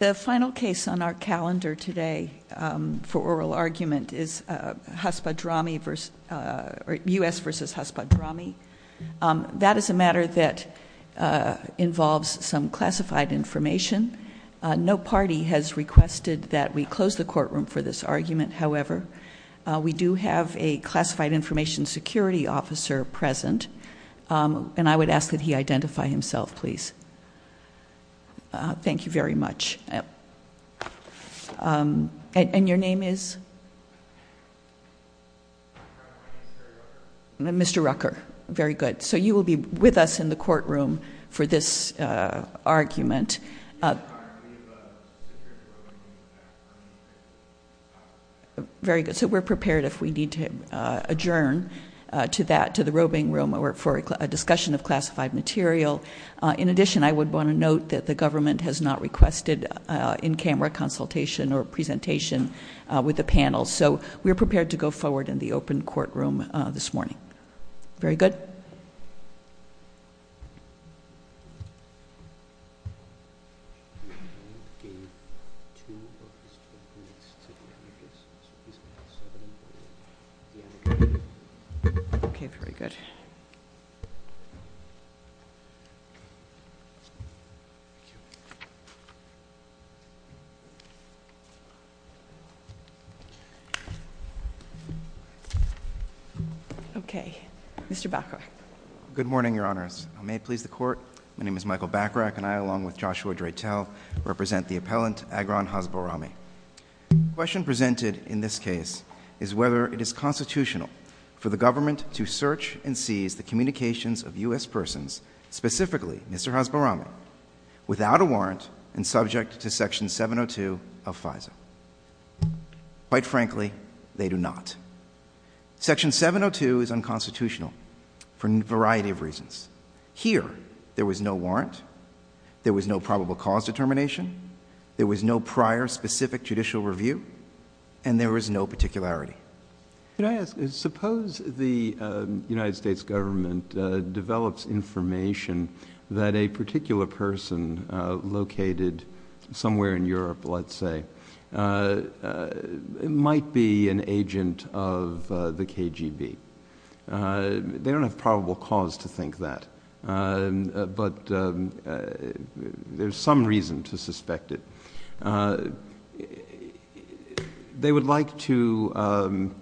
The final case on our calendar today for oral argument is Haspadrami v. U.S. v. Haspadrami. That is a matter that involves some classified information. No party has requested that we close the courtroom for this argument, however. We do have a classified information security officer present, and I would ask that he identify himself, please. Thank you very much. And your name is? Mr. Rucker. Very good. So you will be with us in the courtroom for this argument. Very good. So we're prepared if we need to adjourn to that, to the roving room, or for a discussion of classified material. In addition, I would want to note that the government has not requested in-camera consultation or presentation with the panel, so we are prepared to go forward in the open courtroom this morning. Very good. Okay, very good. Okay, Mr. Bacharach. Good morning, Your Honor. My name is Michael Bacharach, and I, along with Joshua Dreitel, represent the appellant, Agron Haspadrami. The question presented in this case is whether it is constitutional for the government to search and seize the communications of U.S. persons, specifically Mr. Haspadrami, without a warrant and subject to Section 702 of FISA. Quite frankly, they do not. Section 702 is unconstitutional for a variety of reasons. Here, there was no warrant, there was no probable cause determination, there was no prior specific judicial review, and there was no particularity. Can I ask, suppose the United States government develops information that a particular person located somewhere in Europe, let's say, might be an agent of the KGB. They don't have probable cause to think that, but there's some reason to suspect it. They would like to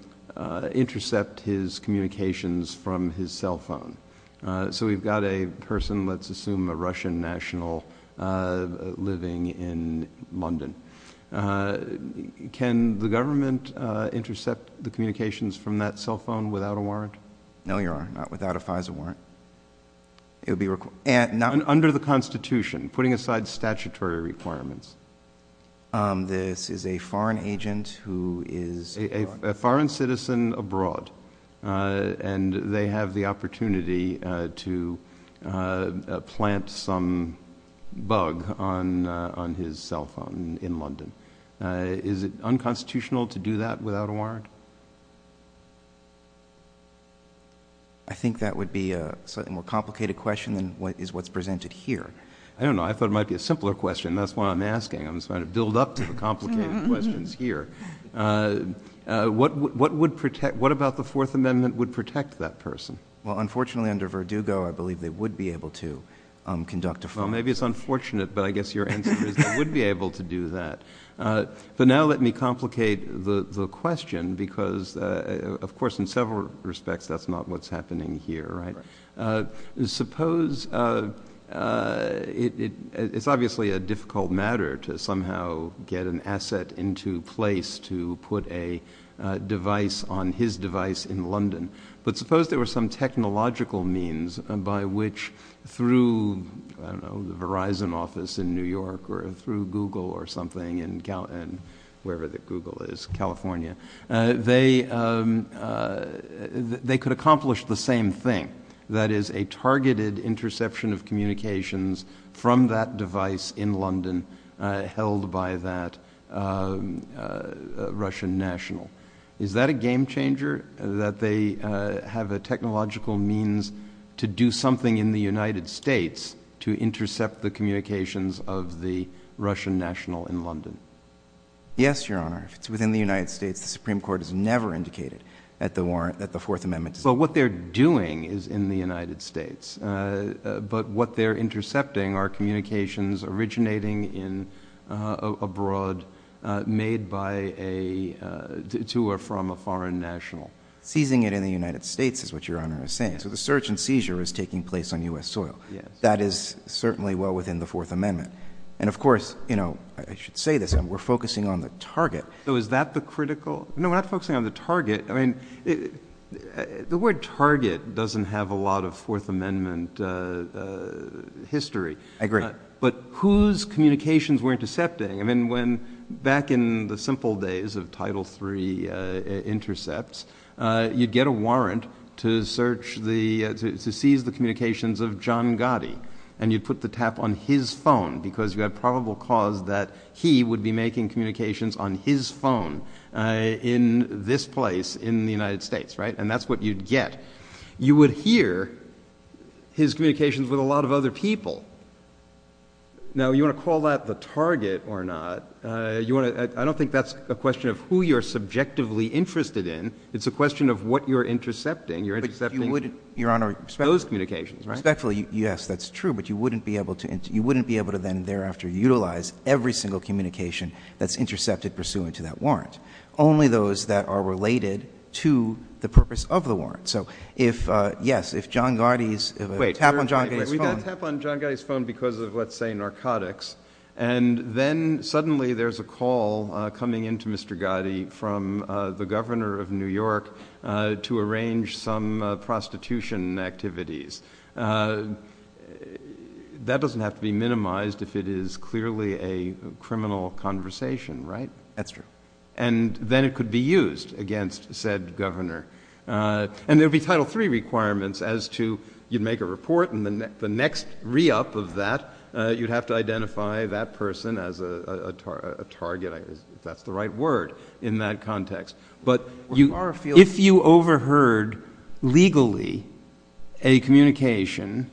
intercept his communications from his cell phone. So we've got a person, let's assume a Russian national, living in London. Can the government intercept the communications from that cell phone without a warrant? No, Your Honor, not without a FISA warrant. Under the Constitution, putting aside statutory requirements. This is a foreign agent who is... A foreign citizen abroad. And they have the opportunity to plant some bug on his cell phone in London. Is it unconstitutional to do that without a warrant? I think that would be a slightly more complicated question than what is presented here. I don't know. I thought it might be a simpler question. That's why I'm asking. I'm trying to build up to the complicated questions here. What about the Fourth Amendment would protect that person? Well, unfortunately, under Verdugo, I believe they would be able to conduct a... Well, maybe it's unfortunate, but I guess your answer is they would be able to do that. But now let me complicate the question, because, of course, in several respects, that's not what's happening here, right? Suppose... It's obviously a difficult matter to somehow get an asset into place to put a device on his device in London. But suppose there were some technological means by which, through, I don't know, the Verizon office in New York or through Google or something in California, they could accomplish the same thing. That is, a targeted interception of communications from that device in London held by that Russian national. Is that a game-changer, that they have a technological means to do something in the United States to intercept the communications of the Russian national in London? Yes, Your Honor. Within the United States, the Supreme Court has never indicated that the Fourth Amendment... Well, what they're doing is in the United States, but what they're intercepting are communications originating abroad made to or from a foreign national. Seizing it in the United States is what Your Honor is saying. So the search and seizure is taking place on U.S. soil. That is certainly well within the Fourth Amendment. And, of course, I should say this, we're focusing on the target. So is that the critical... No, we're not focusing on the target. I mean, the word target doesn't have a lot of Fourth Amendment history. I agree. But whose communications were intercepting? I mean, back in the simple days of Title III intercepts, you'd get a warrant to seize the communications of John Gotti, and you'd put the tap on his phone because you had probable cause that he would be making communications on his phone. In this place in the United States, right? And that's what you'd get. You would hear his communications with a lot of other people. Now, you want to call that the target or not, I don't think that's a question of who you're subjectively interested in. It's a question of what you're intercepting. You're intercepting those communications, right? Yes, that's true. But you wouldn't be able to then thereafter utilize every single communication that's intercepted pursuant to that warrant. Only those that are related to the purpose of the warrant. So if, yes, if John Gotti's tap on John Gotti's phone... Wait, we got a tap on John Gotti's phone because of, let's say, narcotics, and then suddenly there's a call coming in to Mr. Gotti from the governor of New York to arrange some prostitution activities. That doesn't have to be minimized if it is clearly a criminal conversation, right? That's true. And then it could be used against said governor. And there would be Title III requirements as to you'd make a report, and the next re-up of that you'd have to identify that person as a target, if that's the right word, in that context. But if you overheard, legally, a communication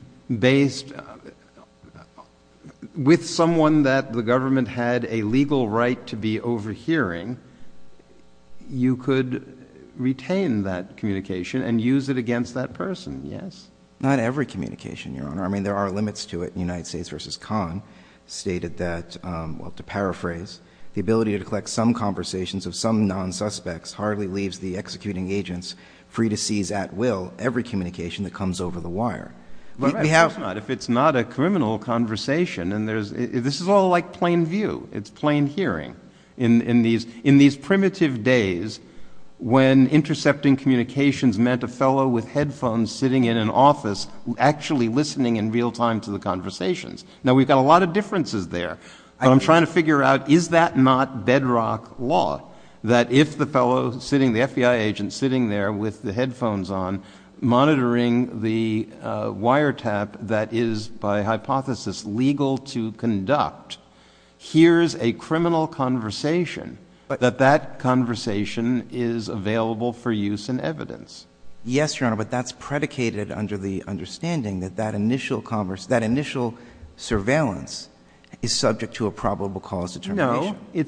with someone that the government had a legal right to be overhearing, you could retain that communication and use it against that person, yes? Not every communication, Your Honor. I mean, there are limits to it in United States v. Conn. It's stated that, well, to paraphrase, the ability to collect some conversations of some non-suspects hardly leaves the executing agents free to seize at will every communication that comes over the wire. Of course not, if it's not a criminal conversation. And this is all like plain view. It's plain hearing. In these primitive days, when intercepting communications meant a fellow with headphones sitting in an office actually listening in real time to the conversations. Now, we've got a lot of differences there. I'm trying to figure out, is that not bedrock law? That if the fellow sitting, the FBI agent sitting there with the headphones on, monitoring the wiretap that is, by hypothesis, legal to conduct, hears a criminal conversation, that that conversation is available for use in evidence. Yes, Your Honor, but that's predicated under the understanding that that initial surveillance is subject to a probable cause determination. No.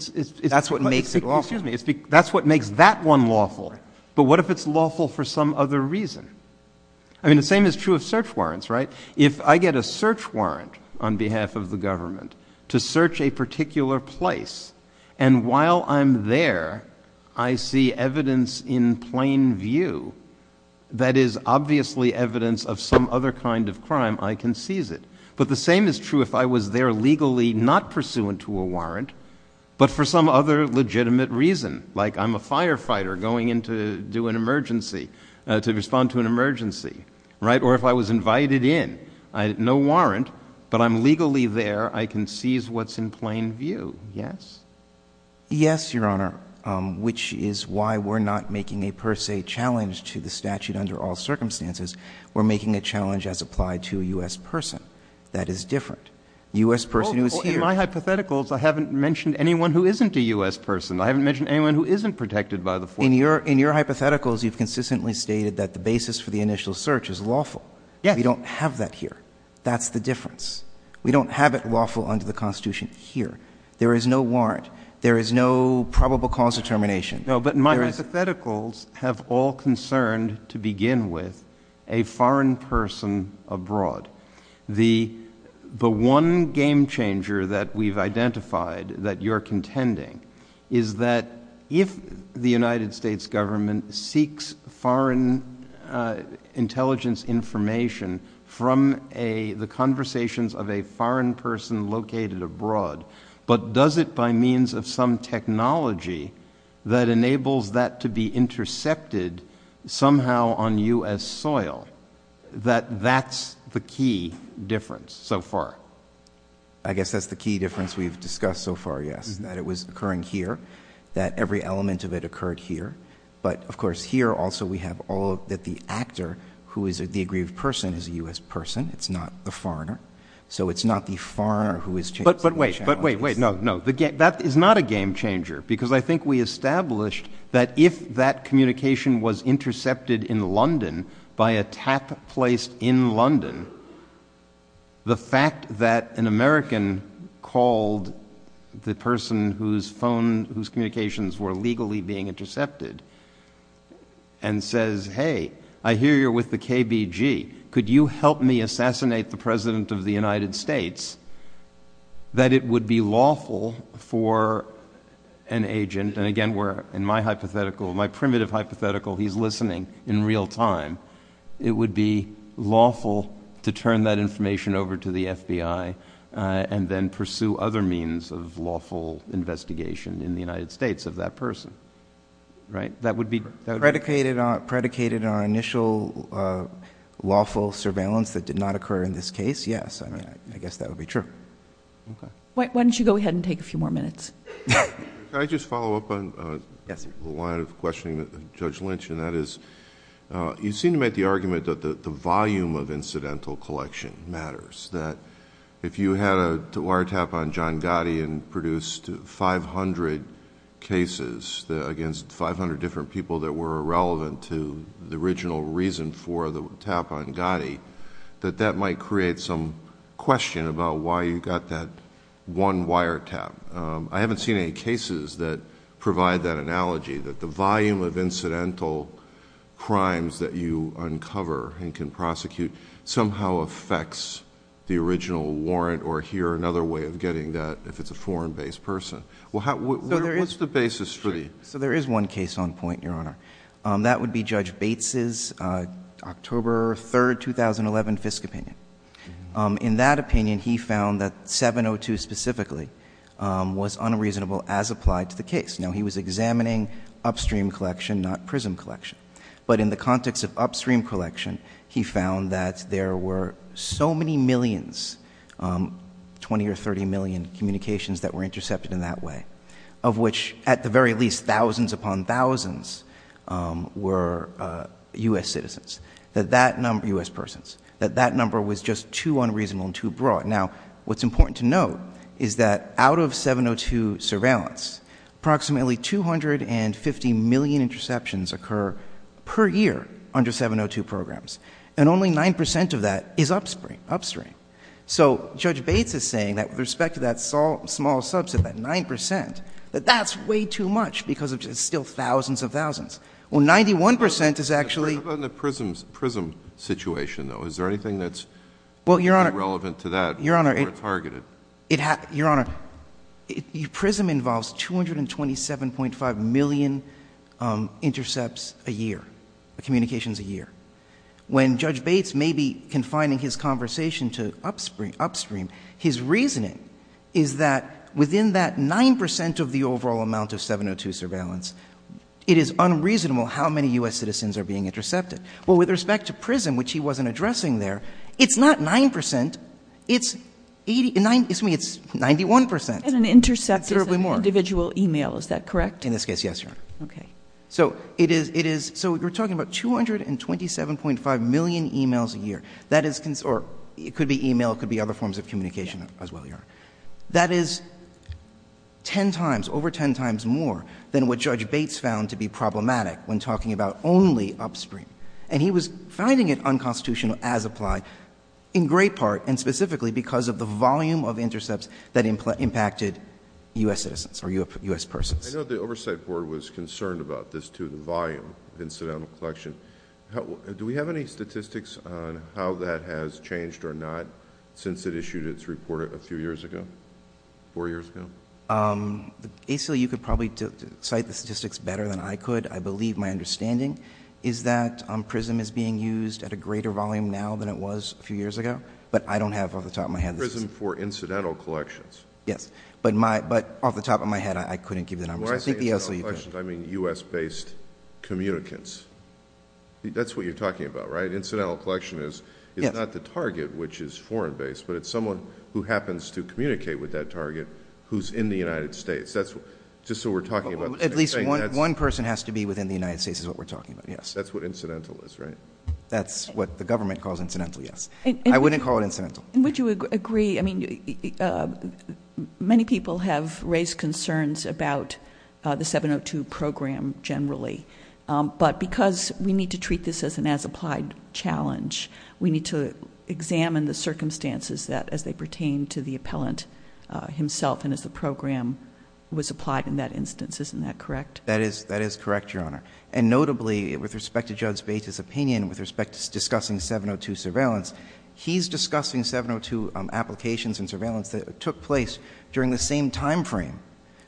That's what makes that one lawful. But what if it's lawful for some other reason? I mean, the same is true of search warrants, right? If I get a search warrant on behalf of the government to search a particular place, and while I'm there, I see evidence in plain view that is obviously evidence of some other kind of crime, I can seize it. But the same is true if I was there legally not pursuant to a warrant, but for some other legitimate reason, like I'm a firefighter going in to do an emergency, to respond to an emergency, right? Or if I was invited in, no warrant, but I'm legally there, I can seize what's in plain view. Yes. Yes, Your Honor, which is why we're not making a per se challenge to the statute under all circumstances. We're making a challenge as applied to a U.S. person. That is different. A U.S. person who is here. In my hypotheticals, I haven't mentioned anyone who isn't a U.S. person. I haven't mentioned anyone who isn't protected by the force. In your hypotheticals, you've consistently stated that the basis for the initial search is lawful. Yes. We don't have that here. That's the difference. We don't have it lawful under the Constitution here. There is no warrant. There is no probable cause of termination. No, but my hypotheticals have all concerned, to begin with, a foreign person abroad. The one game changer that we've identified that you're contending is that if the United States government seeks foreign intelligence information from the conversations of a foreign person located abroad, but does it by means of some technology that enables that to be intercepted somehow on U.S. soil, that that's the key difference so far. I guess that's the key difference we've discussed so far, yes. That it was occurring here. That every element of it occurred here. But, of course, here also we have that the actor who is the aggrieved person is a U.S. person. It's not the foreigner. So it's not the foreigner who is challenged. But wait, wait, wait. No, no. That is not a game changer because I think we established that if that communication was intercepted in London by attack placed in London, the fact that an American called the person whose communications were legally being intercepted and says, Hey, I hear you're with the KBG. Could you help me assassinate the President of the United States, that it would be lawful for an agent, and again, in my hypothetical, my primitive hypothetical, he's listening in real time, it would be lawful to turn that information over to the FBI and then pursue other means of lawful investigation in the United States of that person. Right. That would be predicated on initial lawful surveillance that did not occur in this case. Yes. I mean, I guess that would be true. Why don't you go ahead and take a few more minutes. Can I just follow up on the line of questioning that Judge Lynch, and that is, you seem to make the argument that the volume of incidental collection matters. If you had a wiretap on John Gotti and produced 500 cases against 500 different people that were irrelevant to the original reason for the tap on Gotti, that that might create some question about why you got that one wiretap. I haven't seen any cases that provide that analogy, that the volume of incidental crimes that you uncover and can prosecute somehow affects the original warrant or hear another way of getting that if it's a foreign-based person. What's the basis for that? There is one case on point, Your Honor. That would be Judge Bates' October 3, 2011, Fisk opinion. In that opinion, he found that 702 specifically was unreasonable as applied to the case. Now, he was examining upstream collection, not prism collection. But in the context of upstream collection, he found that there were so many millions, 20 or 30 million communications that were intercepted in that way, of which at the very least thousands upon thousands were U.S. citizens, U.S. persons, that that number was just too unreasonable and too broad. Now, what's important to note is that out of 702 surveillance, approximately 250 million interceptions occur per year under 702 programs, and only 9 percent of that is upstream. So Judge Bates is saying that with respect to that small subset, that 9 percent, that that's way too much because it's still thousands of thousands. Well, 91 percent is actually— Your Honor, prism involves 227.5 million intercepts a year, communications a year. When Judge Bates may be confining his conversation to upstream, his reasoning is that within that 9 percent of the overall amount of 702 surveillance, it is unreasonable how many U.S. citizens are being intercepted. Well, with respect to prism, which he wasn't addressing there, it's not 9 percent, it's 91 percent. And an intercept is an individual email, is that correct? In this case, yes, Your Honor. Okay. So it is—so we're talking about 227.5 million emails a year. That is—or it could be email, it could be other forms of communication as well, Your Honor. That is 10 times, over 10 times more than what Judge Bates found to be problematic when talking about only upstream. And he was finding it unconstitutional as applied in great part and specifically because of the volume of intercepts that impacted U.S. citizens or U.S. persons. I know the Oversight Board was concerned about this too, the volume of incidental collection. Do we have any statistics on how that has changed or not since it issued its report a few years ago, four years ago? Basically, you could probably cite the statistics better than I could. I believe my understanding is that prism is being used at a greater volume now than it was a few years ago, but I don't have off the top of my head— Prism for incidental collections. Yes, but off the top of my head, I couldn't give the numbers. When I say incidental collections, I mean U.S.-based communicants. That's what you're talking about, right? Incidental collection is not the target, which is foreign-based, but it's someone who happens to communicate with that target who's in the United States. That's just what we're talking about. At least one person has to be within the United States is what we're talking about, yes. That's what incidental is, right? That's what the government calls incidental, yes. I wouldn't call it incidental. Would you agree—I mean, many people have raised concerns about the 702 program generally, but because we need to treat this as an as-applied challenge, we need to examine the circumstances as they pertain to the appellant himself and as the program was applied in that instance. Isn't that correct? That is correct, Your Honor. And notably, with respect to Judge Bates' opinion, with respect to discussing 702 surveillance, he's discussing 702 applications and surveillance that took place during the same timeframe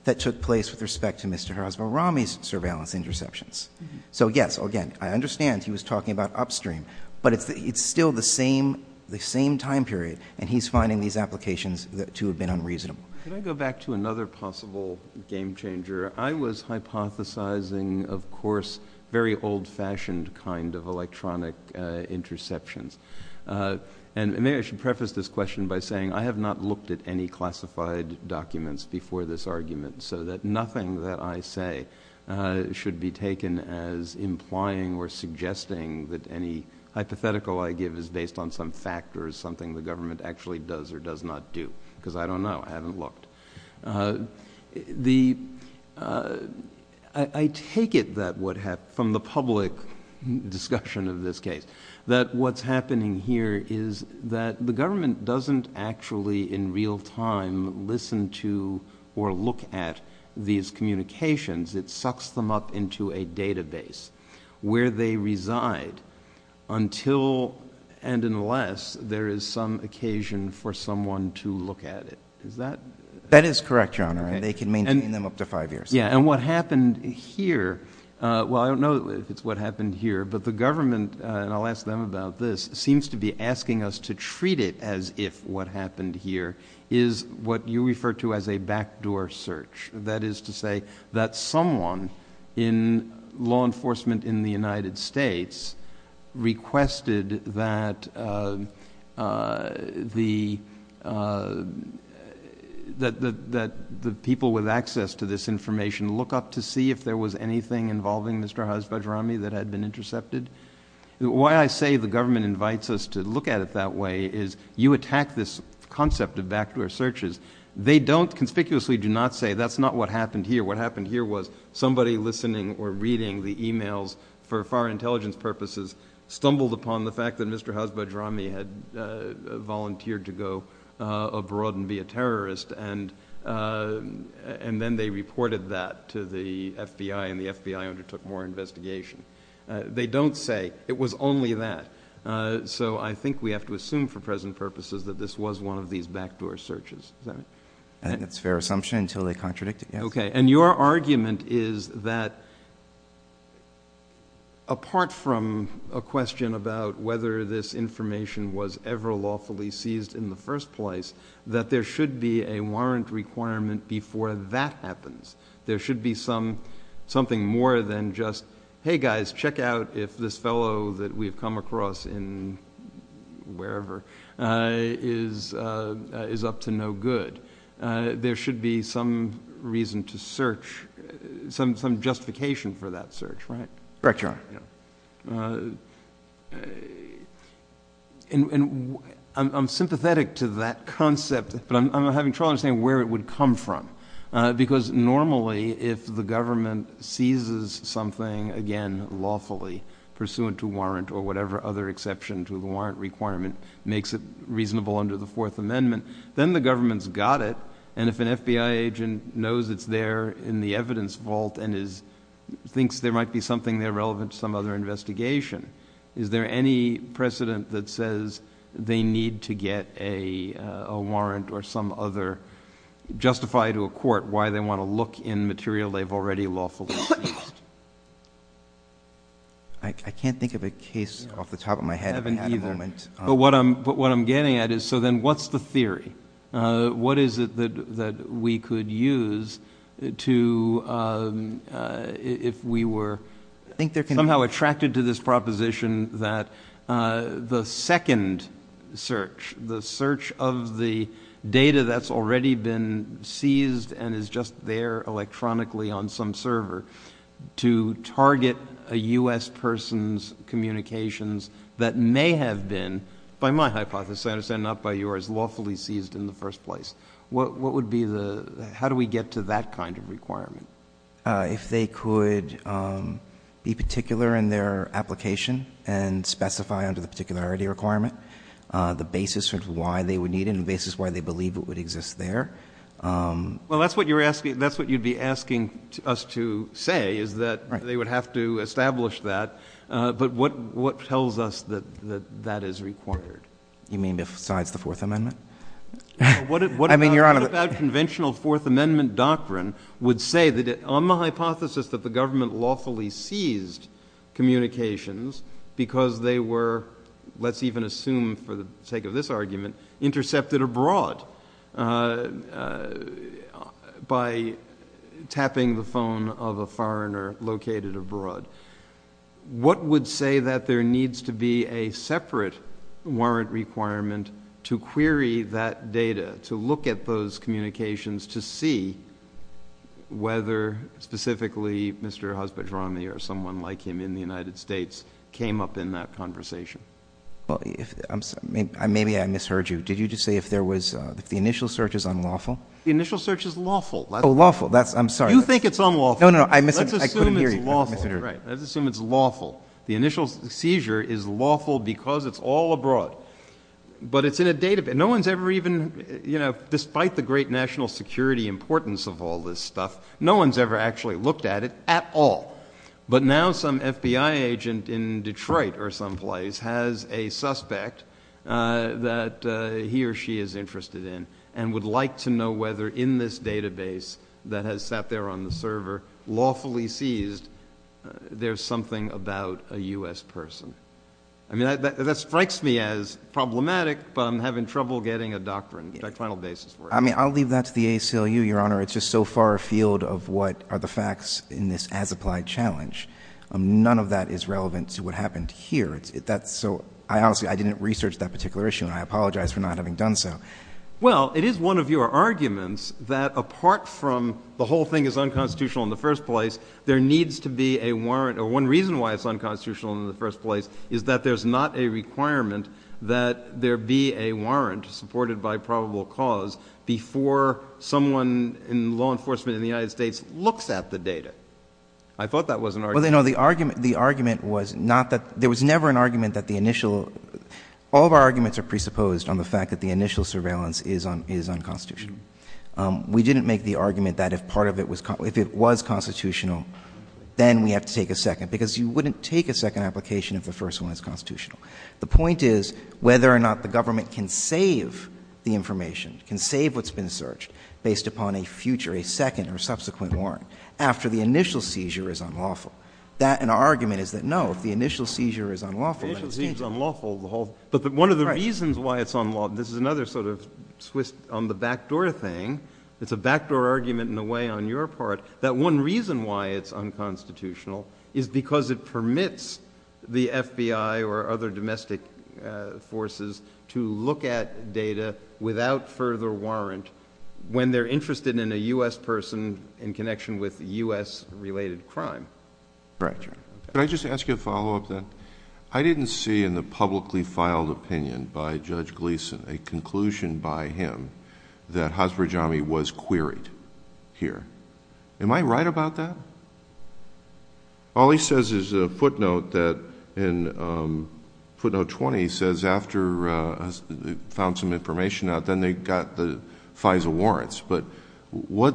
that took place with respect to Mr. Hasbarami's surveillance interceptions. So, yes, again, I understand he was talking about upstream, but it's still the same time period, and he's finding these applications to have been unreasonable. Can I go back to another possible game-changer? I was hypothesizing, of course, very old-fashioned kind of electronic interceptions. And maybe I should preface this question by saying I have not looked at any classified documents before this argument, so that nothing that I say should be taken as implying or suggesting that any hypothetical I give is based on some fact or is something the government actually does or does not do, because I don't know. I haven't looked. I take it from the public discussion of this case that what's happening here is that the government doesn't actually in real time listen to or look at these communications. It sucks them up into a database where they reside until and unless there is some occasion for someone to look at it. That is correct, Your Honor, and they can maintain them up to five years. Yes, and what happened here, well, I don't know if it's what happened here, but the government, and I'll ask them about this, seems to be asking us to treat it as if what happened here is what you refer to as a backdoor search. That is to say that someone in law enforcement in the United States requested that the people with access to this information look up to see if there was anything involving Mr. Hajjajarami that had been intercepted. Why I say the government invites us to look at it that way is you attack this concept of backdoor searches. They don't, conspicuously do not say that's not what happened here. What happened here was somebody listening or reading the emails for foreign intelligence purposes stumbled upon the fact that Mr. Hajjajarami had volunteered to go abroad and be a terrorist, and then they reported that to the FBI, and the FBI undertook more investigation. They don't say it was only that. So I think we have to assume for present purposes that this was one of these backdoor searches. That's a fair assumption until they contradict it. Okay, and your argument is that apart from a question about whether this information was ever lawfully seized in the first place, that there should be a warrant requirement before that happens. There should be something more than just, hey guys, check out if this fellow that we have come across in wherever is up to no good. There should be some reason to search, some justification for that search, right? Correct, Your Honor. And I'm sympathetic to that concept, but I'm having trouble understanding where it would come from. Because normally if the government seizes something, again, lawfully, pursuant to warrant or whatever other exception to the warrant requirement makes it reasonable under the Fourth Amendment, then the government's got it, and if an FBI agent knows it's there in the evidence vault and thinks there might be something there relevant to some other investigation, is there any precedent that says they need to get a warrant or some other justified to a court why they want to look in material they've already lawfully seized? I can't think of a case off the top of my head at the moment. But what I'm getting at is, so then what's the theory? What is it that we could use if we were somehow attracted to this proposition that the second search, the search of the data that's already been seized and is just there electronically on some server to target a U.S. person's communications that may have been, by my hypothesis, I understand not by yours, lawfully seized in the first place? How do we get to that kind of requirement? If they could be particular in their application and specify under the particularity requirement the basis of why they would need it and the basis why they believe it would exist there. Well, that's what you'd be asking us to say, is that they would have to establish that. But what tells us that that is required? You mean besides the Fourth Amendment? What about conventional Fourth Amendment doctrine would say that on the hypothesis that the government lawfully seized communications because they were, let's even assume for the sake of this argument, intercepted abroad by tapping the phone of a foreigner located abroad. What would say that there needs to be a separate warrant requirement to query that data, to look at those communications to see whether specifically Mr. Hospitroni or someone like him in the United States came up in that conversation? Maybe I misheard you. Did you just say if the initial search is unlawful? The initial search is lawful. Oh, lawful. I'm sorry. You think it's unlawful. No, no. I couldn't hear you. Let's assume it's lawful. The initial seizure is lawful because it's all abroad. But it's in a database. No one's ever even, you know, despite the great national security importance of all this stuff, no one's ever actually looked at it at all. But now some FBI agent in Detroit or someplace has a suspect that he or she is interested in and would like to know whether in this database that has sat there on the server lawfully sees there's something about a U.S. person. I mean, that strikes me as problematic, but I'm having trouble getting a doctrine. I mean, I'll leave that to the ACLU, Your Honor. It's just so far afield of what are the facts in this as-applied challenge. None of that is relevant to what happened here. So I honestly didn't research that particular issue, and I apologize for not having done so. Well, it is one of your arguments that apart from the whole thing is unconstitutional in the first place, there needs to be a warrant, or one reason why it's unconstitutional in the first place is that there's not a requirement that there be a warrant supported by probable cause before someone in law enforcement in the United States looks at the data. I thought that was an argument. Well, no, the argument was not that there was never an argument that the initial, all of our arguments are presupposed on the fact that the initial surveillance is unconstitutional. We didn't make the argument that if part of it was, if it was constitutional, then we have to take a second, because you wouldn't take a second application if the first one is constitutional. The point is whether or not the government can save the information, can save what's been searched, based upon a future, a second or subsequent warrant, after the initial seizure is unlawful. That and our argument is that no, if the initial seizure is unlawful... The initial seizure is unlawful, but one of the reasons why it's unlawful, this is another sort of twist on the backdoor thing, it's a backdoor argument in a way on your part, that one reason why it's unconstitutional is because it permits the FBI or other domestic forces to look at data without further warrant when they're interested in a U.S. person in connection with U.S.-related crime. Roger. Can I just ask you a follow-up then? I didn't see in the publicly filed opinion by Judge Gleeson a conclusion by him that Hasbrojami was queried here. Am I right about that? All he says is a footnote that, in footnote 20, he says after he found some information out, then they got the FISA warrants. But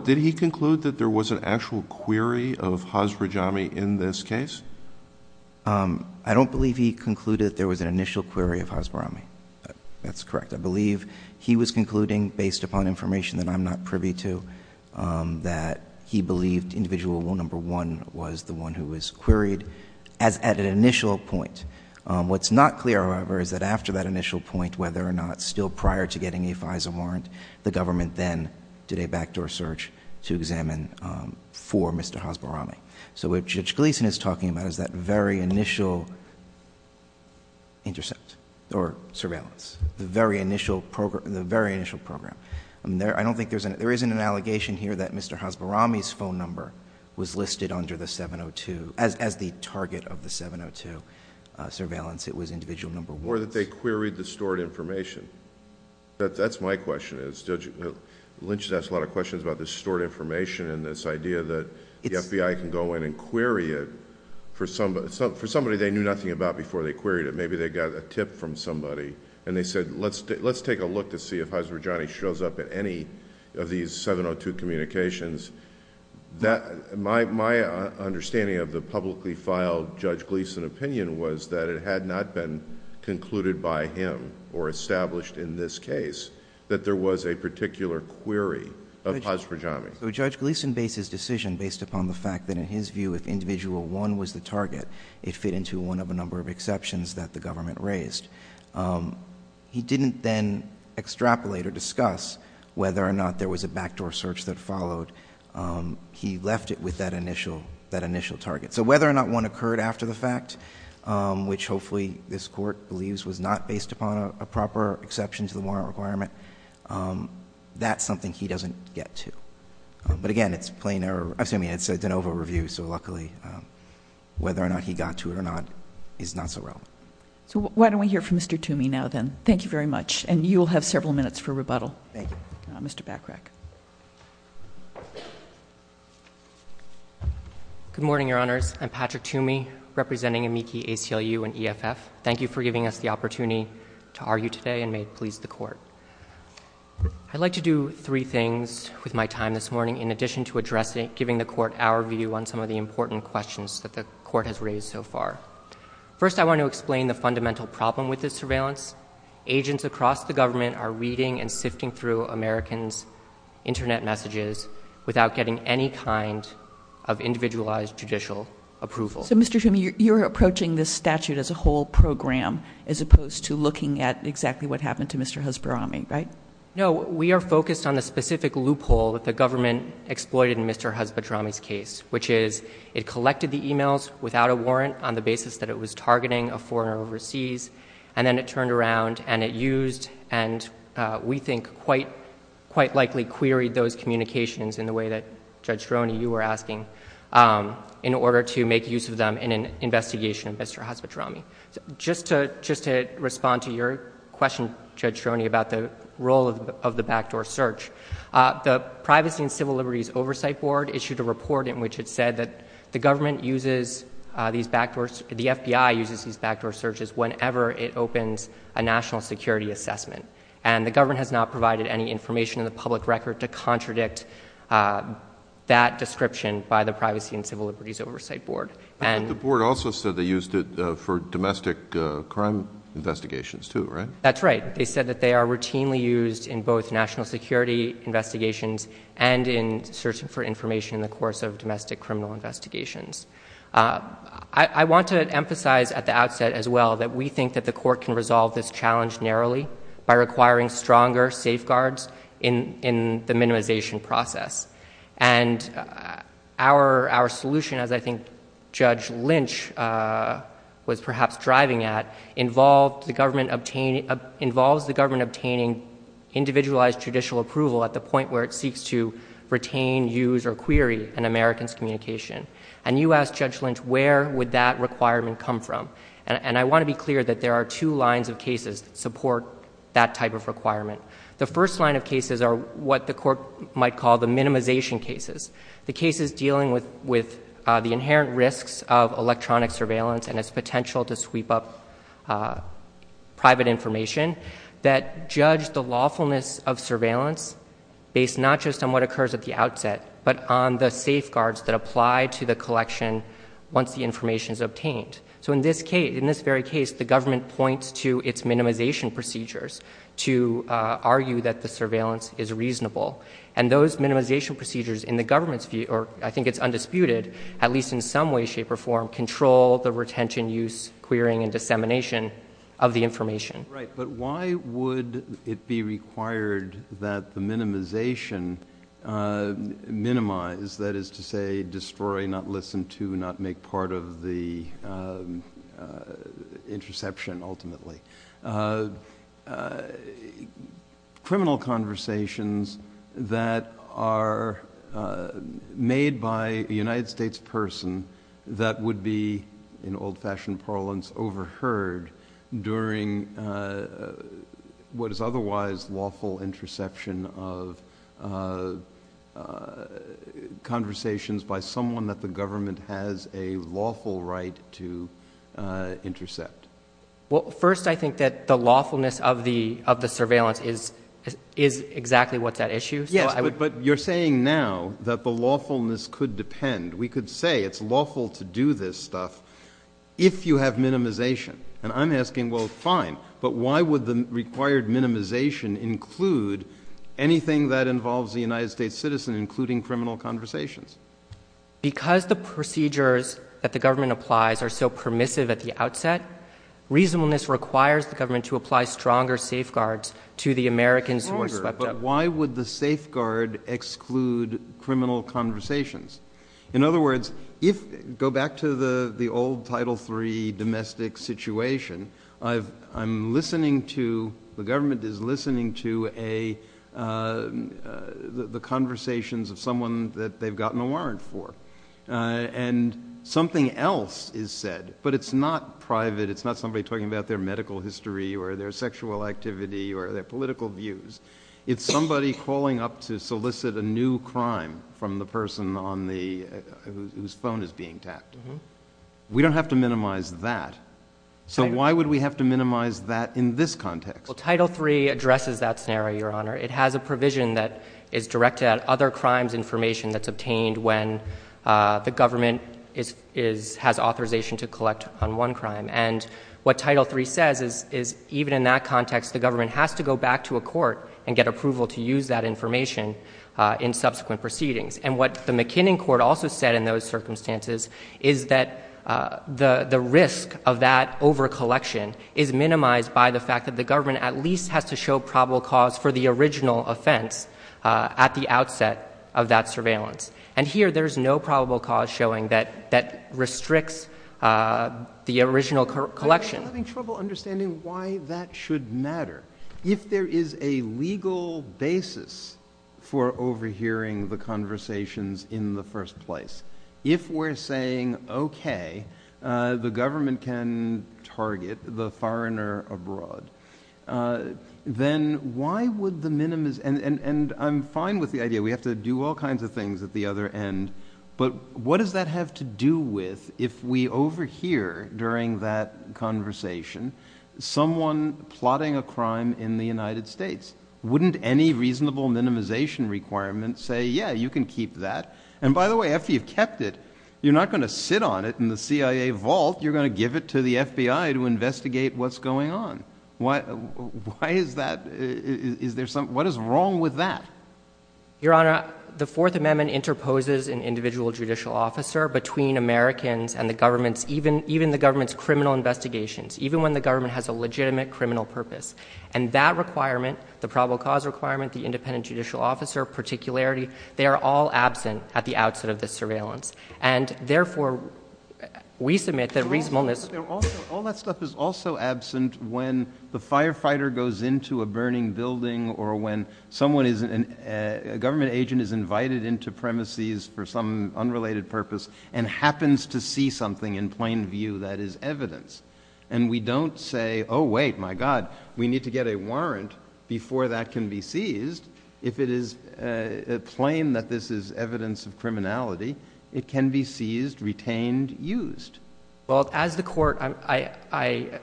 did he conclude that there was an actual query of Hasbrojami in this case? I don't believe he concluded there was an initial query of Hasbrojami. That's correct. I believe he was concluding, based upon information that I'm not privy to, that he believed individual number one was the one who was queried at an initial point. What's not clear, however, is that after that initial point, whether or not still prior to getting a FISA warrant, the government then did a backdoor search to examine for Mr. Hasbrojami. So what Judge Gleeson is talking about is that very initial intercept or surveillance, the very initial program. I don't think there is an allegation here that Mr. Hasbrojami's phone number was listed under the 702 as the target of the 702 surveillance. It was individual number one. Or that they queried the stored information. That's my question. Lynch has asked a lot of questions about this stored information and this idea that the FBI can go in and query it for somebody they knew nothing about before they queried it. Maybe they got a tip from somebody, and they said let's take a look to see if Hasbrojami shows up at any of these 702 communications. My understanding of the publicly filed Judge Gleeson opinion was that it had not been concluded by him or established in this case that there was a particular query of Hasbrojami. Judge Gleeson made his decision based upon the fact that in his view if individual one was the target, it fit into one of a number of exceptions that the government raised. He didn't then extrapolate or discuss whether or not there was a backdoor search that followed He left it with that initial target. So whether or not one occurred after the fact, which hopefully this court believes was not based upon a proper exception to the warrant requirement, that's something he doesn't get to. But again, it's plain error. I mean, it's an over-review, so luckily whether or not he got to it or not is not so relevant. So why don't we hear from Mr. Toomey now then. Thank you very much. And you'll have several minutes for rebuttal. Thank you. Mr. Backrack. Good morning, Your Honors. I'm Patrick Toomey, representing Amici ACLU and EFF. Thank you for giving us the opportunity to argue today and may it please the Court. I'd like to do three things with my time this morning in addition to addressing and giving the Court our view on some of the important questions that the Court has raised so far. First, I want to explain the fundamental problem with this surveillance. Agents across the government are reading and sifting through Americans' Internet messages without getting any kind of individualized judicial approval. So, Mr. Toomey, you're approaching this statute as a whole program as opposed to looking at exactly what happened to Mr. Hesperami, right? No. We are focused on the specific loophole that the government exploited in Mr. Hesperami's case, which is it collected the emails without a warrant on the basis that it was targeting a foreigner overseas and then it turned around and it used and we think quite likely queried those communications in the way that Judge Ferroni, you were asking, in order to make use of them in an investigation of Mr. Hesperami. Just to respond to your question, Judge Ferroni, about the role of the backdoor search, the Privacy and Civil Liberties Oversight Board issued a report in which it said that the government uses these backdoors, the FBI uses these backdoor searches whenever it opens a national security assessment and the government has not provided any information in the public record to contradict that description by the Privacy and Civil Liberties Oversight Board. The board also said they used it for domestic crime investigations too, right? That's right. They said that they are routinely used in both national security investigations and in searching for information in the course of domestic criminal investigations. I want to emphasize at the outset as well that we think that the court can resolve this challenge narrowly by requiring stronger safeguards in the minimization process. And our solution, as I think Judge Lynch was perhaps driving at, involves the government obtaining individualized judicial approval at the point where it seeks to retain, use, or query an American's communication. And you asked Judge Lynch, where would that requirement come from? And I want to be clear that there are two lines of cases that support that type of requirement. The first line of cases are what the court might call the minimization cases, the cases dealing with the inherent risks of electronic surveillance and its potential to sweep up private information that judge the lawfulness of surveillance based not just on what occurs at the outset, but on the safeguards that apply to the collection once the information is obtained. So in this very case, the government points to its minimization procedures to argue that the surveillance is reasonable. And those minimization procedures in the government's view, or I think it's undisputed, at least in some way, shape, or form, control the retention, use, querying, and dissemination of the information. Right, but why would it be required that the minimization minimize, that is to say, destroy, not listen to, not make part of the interception ultimately, criminal conversations that are made by a United States person that would be, in old-fashioned parlance, overheard during what is otherwise lawful interception of conversations by someone that the government has a lawful right to intercept? Well, first, I think that the lawfulness of the surveillance is exactly what that issues. Yes, but you're saying now that the lawfulness could depend. We could say it's lawful to do this stuff if you have minimization. And I'm asking, well, fine, but why would the required minimization include anything that involves the United States citizen, including criminal conversations? Because the procedures that the government applies are so permissive at the outset, reasonableness requires the government to apply stronger safeguards to the Americans who are swept up. But why would the safeguard exclude criminal conversations? In other words, go back to the old Title III domestic situation. I'm listening to, the government is listening to the conversations of someone that they've gotten a warrant for. And something else is said, but it's not private, it's not somebody talking about their medical history or their sexual activity or their political views. It's somebody calling up to solicit a new crime from the person whose phone is being tapped. We don't have to minimize that. So why would we have to minimize that in this context? Well, Title III addresses that scenario, Your Honor. It has a provision that is directed at other crimes information that's obtained when the government has authorization to collect on one crime. And what Title III says is even in that context, the government has to go back to a court and get approval to use that information in subsequent proceedings. And what the McKinnon Court also said in those circumstances is that the risk of that overcollection is minimized by the fact that the government at least has to show probable cause for the original offense at the outset of that surveillance. And here there's no probable cause showing that restricts the original collection. I'm having trouble understanding why that should matter. If there is a legal basis for overhearing the conversations in the first place, if we're saying, okay, the government can target the foreigner abroad, then why would the minimize... And I'm fine with the idea we have to do all kinds of things at the other end, but what does that have to do with if we overhear during that conversation someone plotting a crime in the United States? Wouldn't any reasonable minimization requirement say, yeah, you can keep that? And by the way, after you've kept it, you're not going to sit on it in the CIA vault. You're going to give it to the FBI to investigate what's going on. Why is that? What is wrong with that? Your Honor, the Fourth Amendment interposes an individual judicial officer between Americans and the government, even the government's criminal investigations, even when the government has a legitimate criminal purpose. And that requirement, the probable cause requirement, the independent judicial officer, particularity, they are all absent at the outset of the surveillance. And therefore, we submit that reasonableness... All that stuff is also absent when the firefighter goes into a burning building or when a government agent is invited into premises for some unrelated purpose and happens to see something in plain view that is evidence. And we don't say, oh, wait, my God, we need to get a warrant before that can be seized if it is plain that this is evidence of criminality, it can be seized, retained, used. Well, as the court, I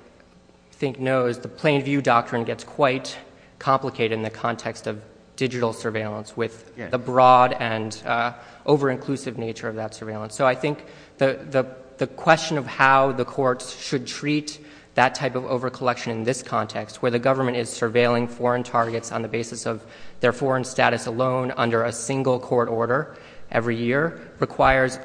think, knows, the plain view doctrine gets quite complicated in the context of digital surveillance with the broad and over-inclusive nature of that surveillance. So I think the question of how the courts should treat that type of over-collection in this context, where the government is surveilling foreign targets on the basis of their foreign status alone under a single court order every year, requires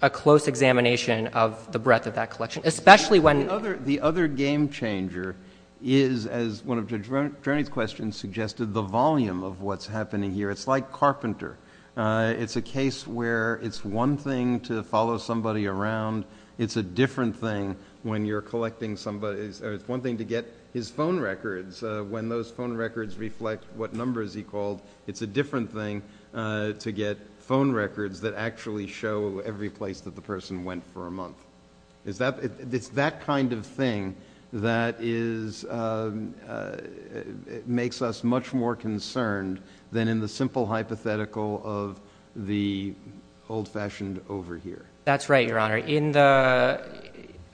a close examination of the breadth of that collection, especially when... The other game-changer is, as one of Judge Vernon's questions suggested, the volume of what's happening here. It's like Carpenter. It's a case where it's one thing to follow somebody around. It's a different thing when you're collecting somebody's... It's one thing to get his phone records. When those phone records reflect what numbers he called, it's a different thing to get phone records that actually show every place that the person went for a month. It's that kind of thing that makes us much more concerned than in the simple hypothetical of the old-fashioned over-here. That's right, Your Honor.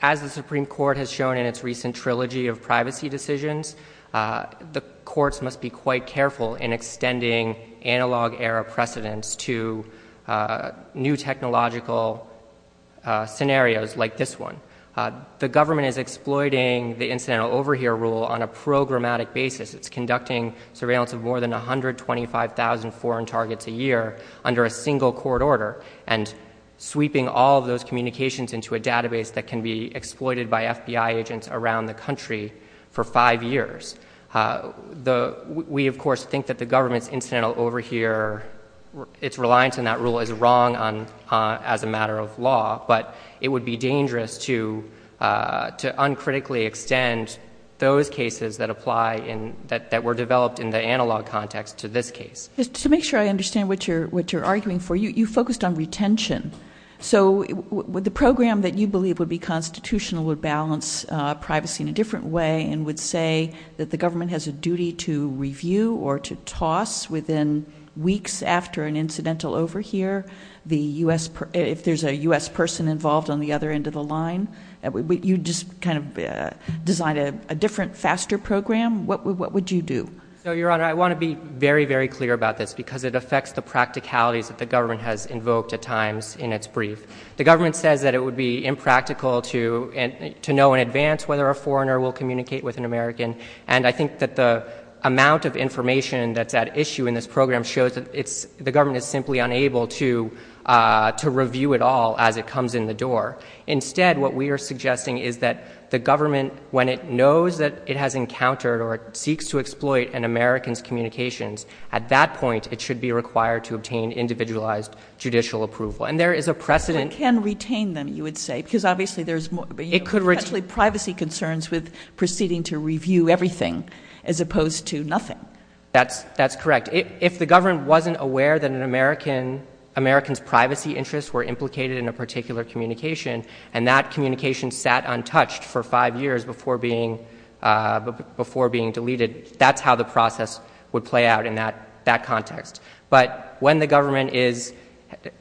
As the Supreme Court has shown in its recent trilogy of privacy decisions, the courts must be quite careful in extending analog era precedents to new technological scenarios like this one. The government is exploiting the incidental over-here rule on a programmatic basis. It's conducting surveillance of more than 125,000 foreign targets a year under a single court order and sweeping all of those communications into a database that can be exploited by FBI agents around the country for five years. We, of course, think that the government's incidental over-here, its reliance on that rule is wrong as a matter of law, but it would be dangerous to uncritically extend those cases that were developed in the analog context to this case. To make sure I understand what you're arguing for, you focused on retention. So the program that you believe would be constitutional would balance privacy in a different way and would say that the government has a duty to review or to toss within weeks after an incidental over-here if there's a U.S. person involved on the other end of the line. You just kind of designed a different, faster program. What would you do? No, Your Honor, I want to be very, very clear about this because it affects the practicalities that the government has invoked at times in its brief. The government says that it would be impractical to know in advance whether a foreigner will communicate with an American, and I think that the amount of information that's at issue in this program shows that the government is simply unable to review it all as it comes in the door. Instead, what we are suggesting is that the government, when it knows that it has encountered or it seeks to exploit an American's communications, at that point it should be required to obtain individualized judicial approval. And there is a precedent... It can retain them, you would say, because obviously there's more... It could retain... Especially privacy concerns with proceeding to review everything as opposed to nothing. That's correct. If the government wasn't aware that an American's privacy interests were implicated in a particular communication and that communication sat untouched for five years before being deleted, that's how the process would play out in that context. But when the government is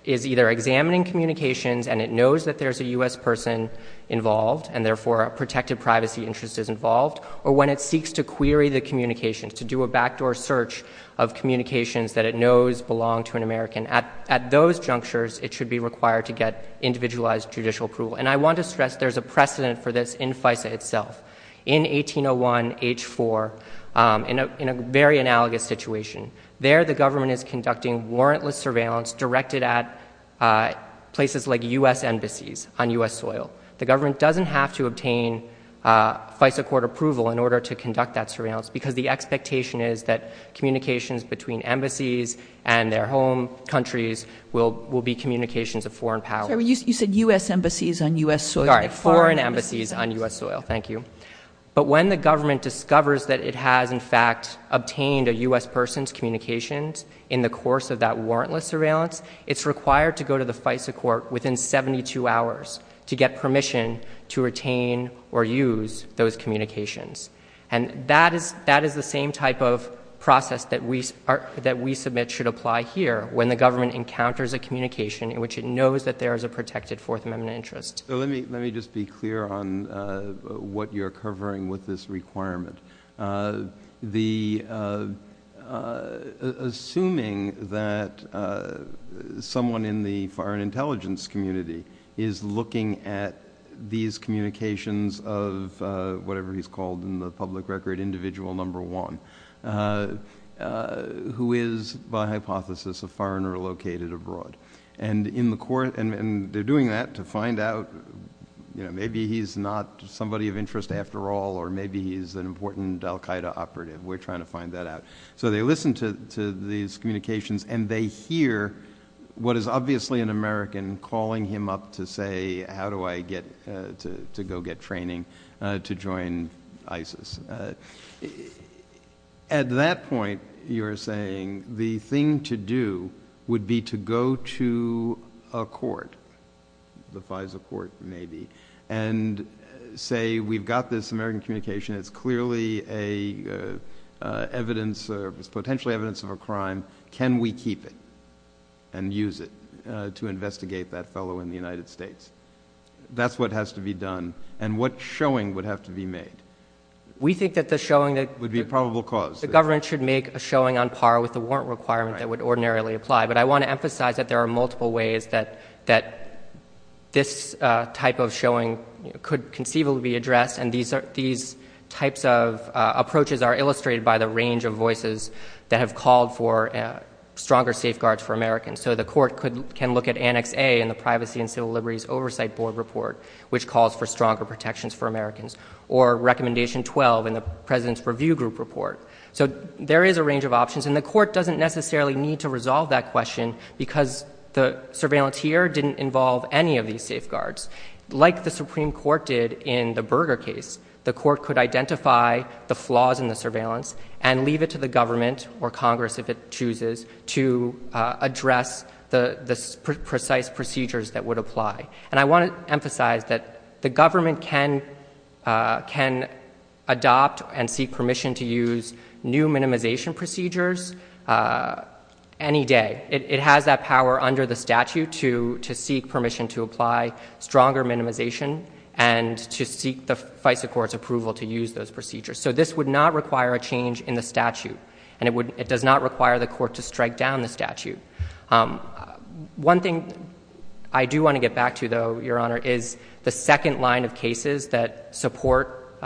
either examining communications and it knows that there's a U.S. person involved and therefore a protected privacy interest is involved, or when it seeks to query the communications, to do a backdoor search of communications that it knows belong to an American, at those junctures it should be required to get individualized judicial approval. And I want to stress there's a precedent for this in FISA itself. In 1801, H4, in a very analogous situation, there the government is conducting warrantless surveillance directed at places like U.S. embassies on U.S. soil. The government doesn't have to obtain FISA court approval in order to conduct that surveillance because the expectation is that communications between embassies and their home countries will be communications of foreign power. You said U.S. embassies on U.S. soil. Foreign embassies on U.S. soil, thank you. But when the government discovers that it has, in fact, obtained a U.S. person's communications in the course of that warrantless surveillance, it's required to go to the FISA court within 72 hours to get permission to retain or use those communications. And that is the same type of process that we submit should apply here when the government encounters a communication in which it knows that there is a protected Fourth Amendment interest. Let me just be clear on what you're covering with this requirement. Assuming that someone in the foreign intelligence community is looking at these communications of whatever he's called in the public record individual number one who is, by hypothesis, a foreigner located abroad. And they're doing that to find out maybe he's not somebody of interest after all or maybe he's an important al-Qaida operative. We're trying to find that out. So they listen to these communications and they hear what is obviously an American calling him up to say, how do I get to go get training to join ISIS? At that point, you're saying the thing to do would be to go to a court, the FISA court maybe, and say we've got this American communication. It's clearly a potential evidence of a crime. Can we keep it and use it to investigate that fellow in the United States? That's what has to be done. And what showing would have to be made? We think that the showing would be a probable cause. The government should make a showing on par with the warrant requirement that would ordinarily apply. But I want to emphasize that there are multiple ways that this type of showing could conceivably be addressed. And these types of approaches are illustrated by the range of voices that have called for stronger safeguards for Americans. So the court can look at Annex A in the Privacy and Civil Liberties Oversight Board report, which calls for stronger protections for Americans, or Recommendation 12 in the President's Review Group report. So there is a range of options, and the court doesn't necessarily need to resolve that question because the surveillance here didn't involve any of these safeguards. Like the Supreme Court did in the Berger case, the court could identify the flaws in the surveillance and leave it to the government or Congress, if it chooses, to address the precise procedures that would apply. And I want to emphasize that the government can adopt and seek permission to use new minimization procedures any day. It has that power under the statute to seek permission to apply stronger minimization and to seek the FISA Court's approval to use those procedures. So this would not require a change in the statute, and it does not require the court to strike down the statute. One thing I do want to get back to, though, Your Honor, is the second line of cases that support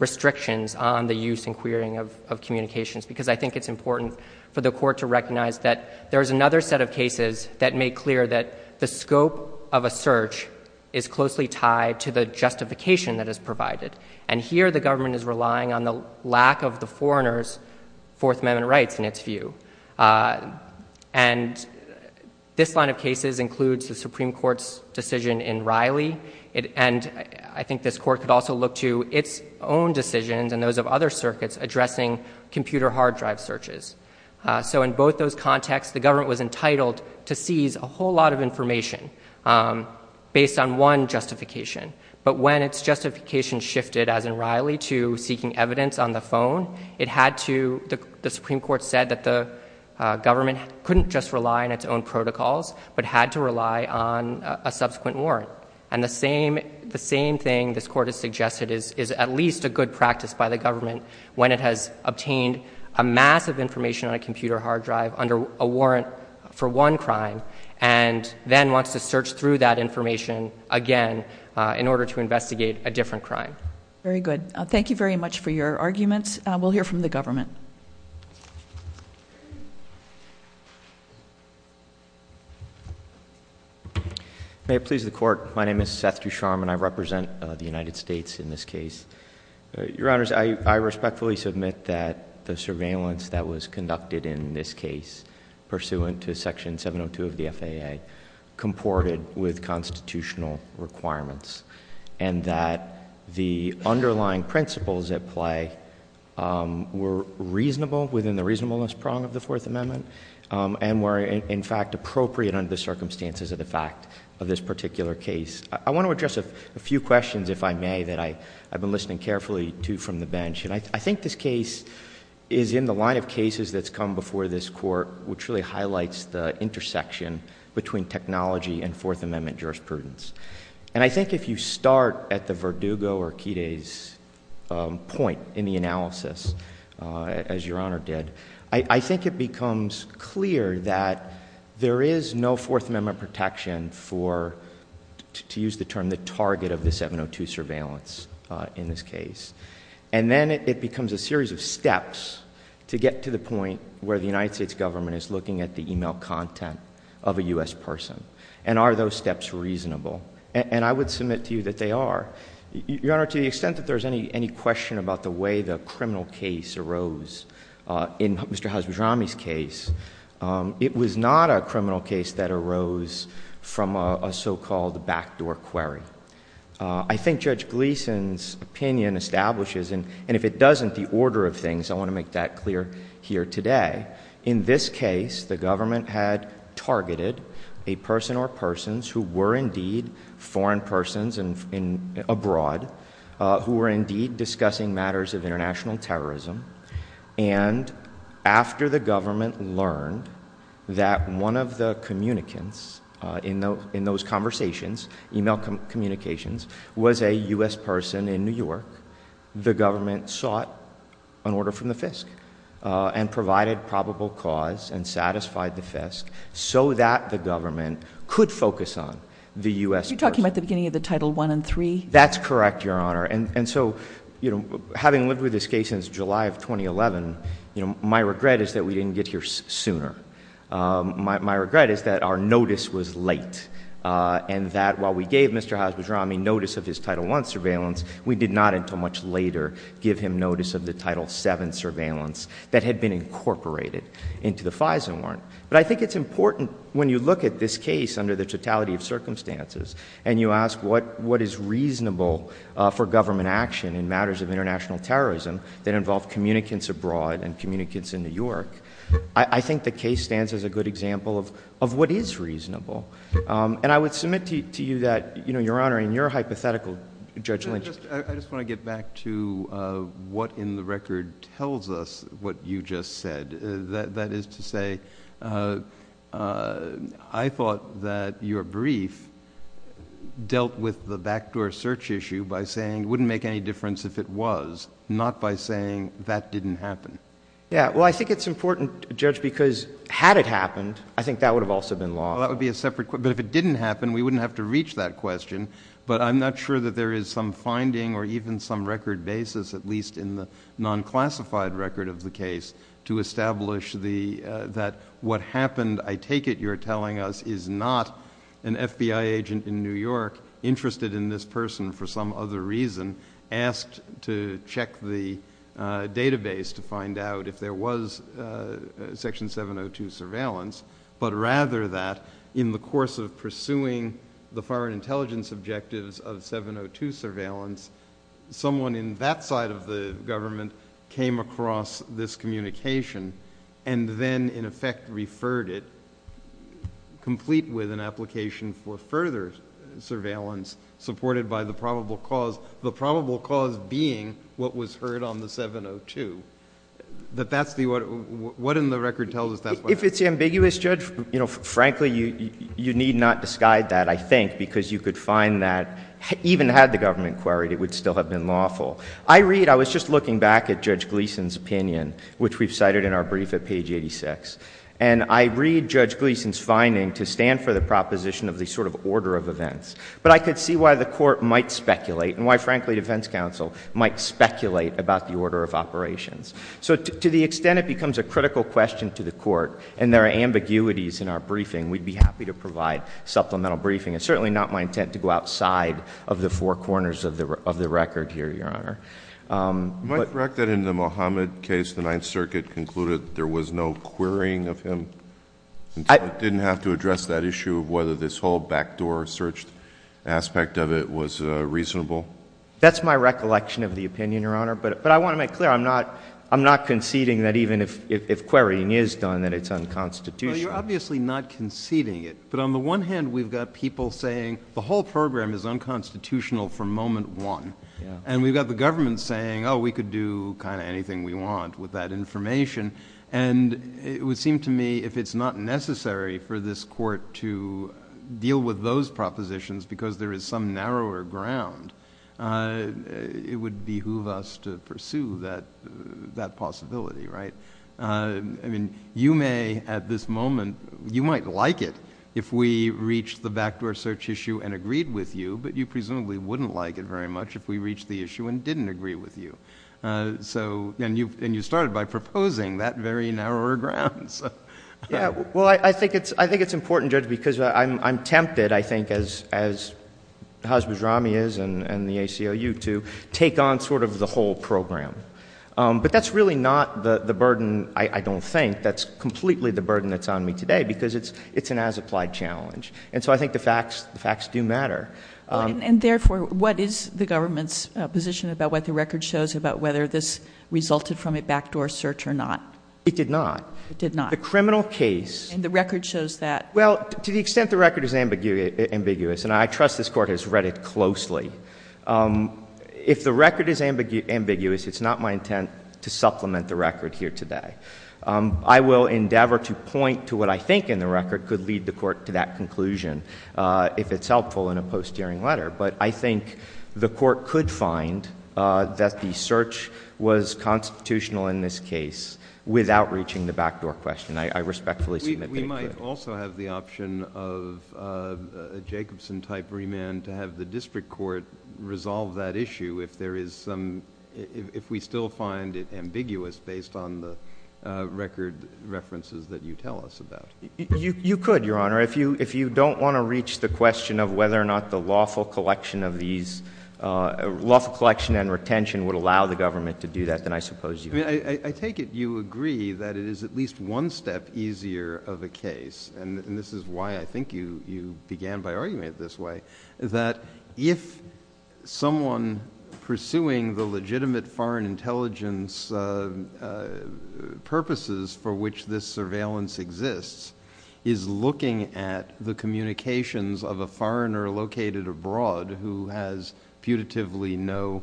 restrictions on the use and querying of communications, because I think it's important for the court to recognize that there is another set of cases that make clear that the scope of a search is closely tied to the justification that is provided. And here the government is relying on the lack of the foreigner's Fourth Amendment rights in its view. And this line of cases includes the Supreme Court's decision in Riley, and I think this court could also look to its own decisions and those of other circuits addressing computer hard drive searches. So in both those contexts, the government was entitled to seize a whole lot of information based on one justification. But when its justification shifted, as in Riley, to seeking evidence on the phone, it had to, the Supreme Court said that the government couldn't just rely on its own protocols, but had to rely on a subsequent warrant. And the same thing this court has suggested is at least a good practice by the government when it has obtained a mass of information on a computer hard drive under a warrant for one crime and then wants to search through that information again in order to investigate a different crime. Very good. Thank you very much for your arguments. We'll hear from the government. May it please the Court, my name is Seth Ducharme and I represent the United States in this case. Your Honors, I respectfully submit that the surveillance that was conducted in this case pursuant to Section 702 of the FAA comported with constitutional requirements and that the underlying principles at play were reasonable within the reasonableness prong of the Fourth Amendment and were, in fact, appropriate under the circumstances of the fact of this particular case. I want to address a few questions, if I may, that I've been listening carefully to from the bench. And I think this case is in the line of cases that's come before this Court, which really highlights the intersection between technology and Fourth Amendment jurisprudence. And I think if you start at the Verdugo or Kide's point in the analysis, as Your Honor did, I think it becomes clear that there is no Fourth Amendment protection for, to use the term, the target of the 702 surveillance in this case. And then it becomes a series of steps to get to the point where the United States government is looking at the e-mail content of a U.S. person. And are those steps reasonable? And I would submit to you that they are. Your Honor, to the extent that there's any question about the way the criminal case arose in Mr. Hasbirami's case, it was not a criminal case that arose from a so-called backdoor query. I think Judge Gleeson's opinion establishes, and if it doesn't, the order of things. I want to make that clear here today. In this case, the government had targeted a person or persons who were indeed foreign persons and abroad, who were indeed discussing matters of international terrorism. And after the government learned that one of the communicants in those conversations, e-mail communications, was a U.S. person in New York, the government sought an order from the FISC and provided probable cause and satisfied the FISC so that the government could focus on the U.S. person. You're talking about the beginning of the Title I and III? That's correct, Your Honor. And so, you know, having lived with this case since July of 2011, you know, my regret is that we didn't get here sooner. My regret is that our notice was late and that while we gave Mr. Hasbirami notice of his Title I surveillance, we did not until much later give him notice of the Title VII surveillance that had been incorporated into the FISA warrant. But I think it's important when you look at this case under the totality of circumstances and you ask what is reasonable for government action in matters of international terrorism that involve communicants abroad and communicants in New York, I think the case stands as a good example of what is reasonable. And I would submit to you that, you know, Your Honor, in your hypothetical, Judge Lynch. I just want to get back to what in the record tells us what you just said. That is to say I thought that your brief dealt with the backdoor search issue by saying it wouldn't make any difference if it was, not by saying that didn't happen. Yeah, well, I think it's important, Judge, because had it happened, I think that would have also been law. Well, that would be a separate question. But if it didn't happen, we wouldn't have to reach that question. But I'm not sure that there is some finding or even some record basis, at least in the non-classified record of the case, to establish that what happened, I take it you're telling us, is not an FBI agent in New York interested in this person for some other reason asked to check the database to find out if there was Section 702 surveillance, but rather that in the course of pursuing the foreign intelligence objectives of 702 surveillance, someone in that side of the government came across this communication and then in effect referred it, complete with an application for further surveillance, supported by the probable cause, the probable cause being what was heard on the 702. But that's what in the record tells us. If it's ambiguous, Judge, frankly, you need not disguise that, I think, because you could find that even had the government queried, it would still have been lawful. I read, I was just looking back at Judge Gleeson's opinion, which we've cited in our brief at page 86, and I read Judge Gleeson's finding to stand for the proposition of the sort of order of events. But I could see why the Court might speculate and why, frankly, defense counsel might speculate about the order of operations. So to the extent it becomes a critical question to the Court and there are ambiguities in our briefing, we'd be happy to provide supplemental briefing. It's certainly not my intent to go outside of the four corners of the record here, Your Honor. Am I correct that in the Mohammed case, the Ninth Circuit concluded there was no querying of him? It didn't have to address that issue of whether this whole backdoor search aspect of it was reasonable? That's my recollection of the opinion, Your Honor. But I want to make clear I'm not conceding that even if querying is done, that it's unconstitutional. Well, you're obviously not conceding it. But on the one hand, we've got people saying the whole program is unconstitutional from moment one. And we've got the government saying, oh, we could do kind of anything we want with that information. And it would seem to me if it's not necessary for this Court to deal with those propositions because there is some narrower ground, it would behoove us to pursue that possibility, right? I mean, you may at this moment, you might like it if we reach the backdoor search issue and agreed with you, but you presumably wouldn't like it very much if we reached the issue and didn't agree with you. And you started by proposing that very narrower ground. Well, I think it's important, Judge, because I'm tempted, I think, as Hasbiz Rami is and the ACLU too, to take on sort of the whole program. But that's really not the burden, I don't think. That's completely the burden that's on me today because it's an as-applied challenge. And so I think the facts do matter. And therefore, what is the government's position about what the record shows, about whether this resulted from a backdoor search or not? It did not. It did not. The criminal case. And the record shows that. If the record is ambiguous, it's not my intent to supplement the record here today. I will endeavor to point to what I think in the record could lead the Court to that conclusion if it's helpful in a post-hearing letter. But I think the Court could find that the search was constitutional in this case without reaching the backdoor question. I respectfully submit that. We might also have the option of a Jacobson-type remand to have the district court resolve that issue if there is some, if we still find it ambiguous based on the record references that you tell us about. You could, Your Honor. If you don't want to reach the question of whether or not the lawful collection of these, lawful collection and retention would allow the government to do that, then I suppose you could. I mean, I take it you agree that it is at least one step easier of a case, and this is why I think you began by arguing it this way, that if someone pursuing the legitimate foreign intelligence purposes for which this surveillance exists is looking at the communications of a foreigner located abroad who has putatively no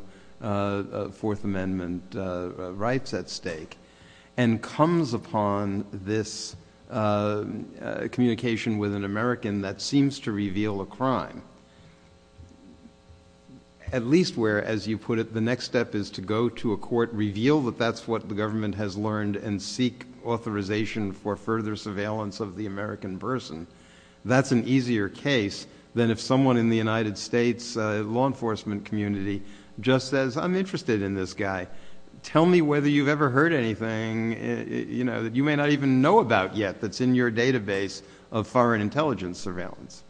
Fourth Amendment rights at stake and comes upon this communication with an American that seems to reveal a crime, at least where, as you put it, the next step is to go to a court, reveal that that's what the government has learned, and seek authorization for further surveillance of the American person. That's an easier case than if someone in the United States law enforcement community just says, I'm interested in this guy. Tell me whether you've ever heard anything, you know, that you may not even know about yet that's in your database of foreign intelligence surveillance.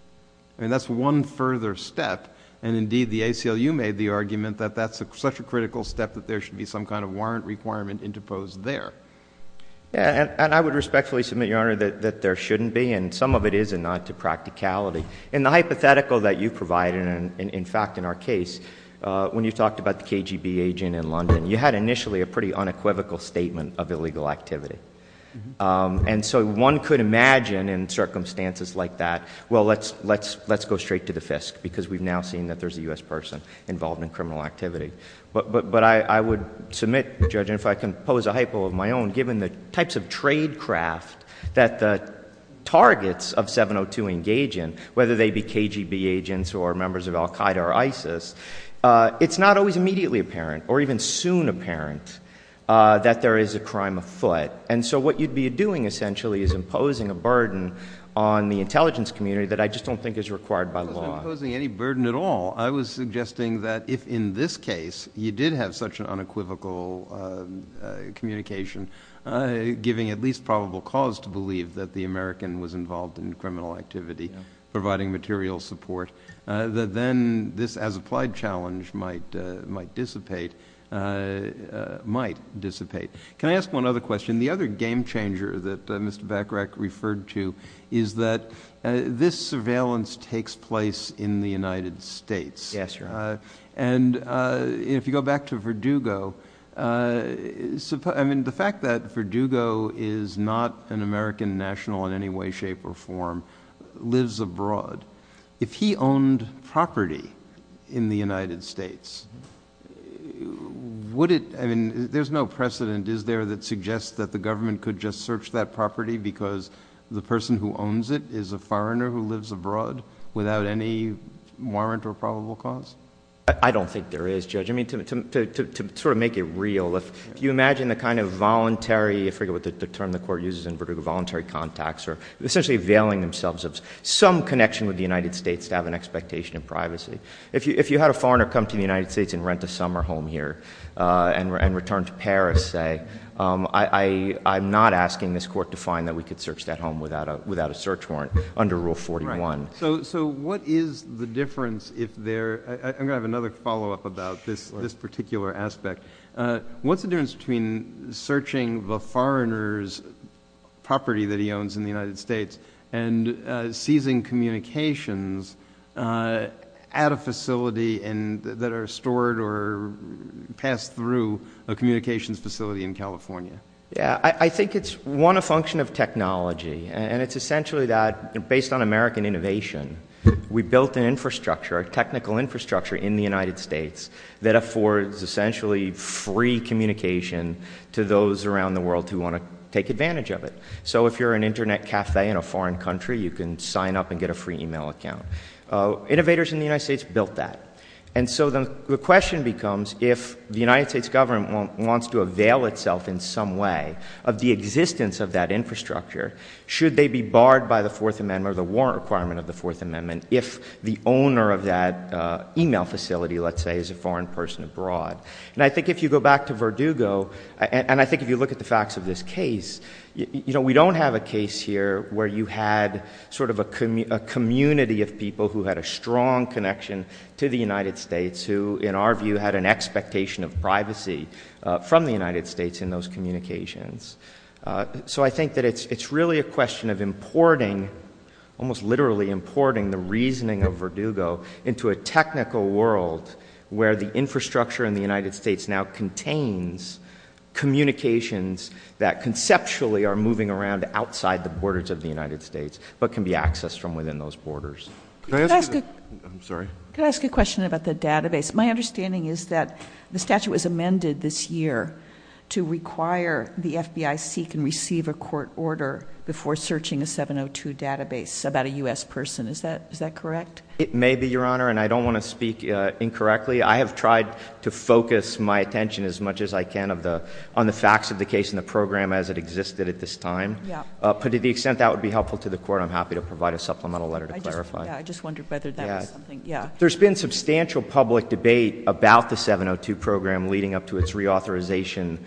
I mean, that's one further step. And, indeed, the ACLU made the argument that that's such a critical step that there should be some kind of warrant requirement interposed there. And I would respectfully submit, Your Honor, that there shouldn't be, and some of it is a nonce of practicality. And the hypothetical that you provide, and in fact in our case, when you talked about the KGB agent in London, you had initially a pretty unequivocal statement of illegal activity. And so one could imagine in circumstances like that, well, let's go straight to the fist, because we've now seen that there's a U.S. person involved in criminal activity. But I would submit, Judge, and if I can pose a hypo of my own, given the types of tradecraft that the targets of 702 engage in, whether they be KGB agents or members of Al-Qaeda or ISIS, it's not always immediately apparent, or even soon apparent, that there is a crime afoot. And so what you'd be doing, essentially, is imposing a burden on the intelligence community that I just don't think is required by the law. I wasn't imposing any burden at all. I was suggesting that if in this case you did have such an unequivocal communication, giving at least probable cause to believe that the American was involved in criminal activity, providing material support, that then this, as applied challenge, might dissipate. Can I ask one other question? The other game-changer that Mr. Bacharach referred to is that this surveillance takes place in the United States. Yes, sir. And if you go back to Verdugo, I mean, the fact that Verdugo is not an American national in any way, shape, or form, lives abroad. If he owned property in the United States, would it, I mean, there's no precedent, is there, that suggests that the government could just search that property because the person who owns it is a foreigner who lives abroad without any warrant or probable cause? I don't think there is, Judge. I mean, to sort of make it real, if you imagine the kind of voluntary, I forget what the term the Court uses in Verdugo, voluntary contacts, or essentially veiling themselves of some connection with the United States to have an expectation of privacy. If you had a foreigner come to the United States and rent a summer home here and return to Paris, say, I'm not asking this Court to find that we could search that home without a search warrant under Rule 41. So what is the difference if there, I'm going to have another follow-up about this particular aspect. What's the difference between searching the foreigner's property that he owns in the United States and seizing communications at a facility that are stored or passed through a communications facility in California? I think it's, one, a function of technology, and it's essentially that, based on American innovation, we built an infrastructure, a technical infrastructure in the United States that affords essentially free communication to those around the world who want to take advantage of it. So if you're an internet cafe in a foreign country, you can sign up and get a free email account. Innovators in the United States built that. And so the question becomes, if the United States government wants to avail itself in some way of the existence of that infrastructure, should they be barred by the Fourth Amendment or the warrant requirement of the Fourth Amendment if the owner of that email facility, let's say, is a foreign person abroad? And I think if you go back to Verdugo, and I think if you look at the facts of this case, you know, we don't have a case here where you had sort of a community of people who had a strong connection to the United States who, in our view, had an expectation of privacy from the United States in those communications. So I think that it's really a question of importing, almost literally importing, the reasoning of Verdugo into a technical world where the infrastructure in the United States now contains communications that conceptually are moving around outside the borders of the United States but can be accessed from within those borders. Can I ask a question about the database? My understanding is that the statute was amended this year to require the FBI seek and receive a court order before searching a 702 database about a U.S. person. Is that correct? It may be, Your Honor, and I don't want to speak incorrectly. I have tried to focus my attention as much as I can on the facts of the case and the program as it existed at this time. But to the extent that would be helpful to the Court, I'm happy to provide a supplemental letter to clarify. I just wondered whether that was something, yeah. There's been substantial public debate about the 702 program leading up to its reauthorization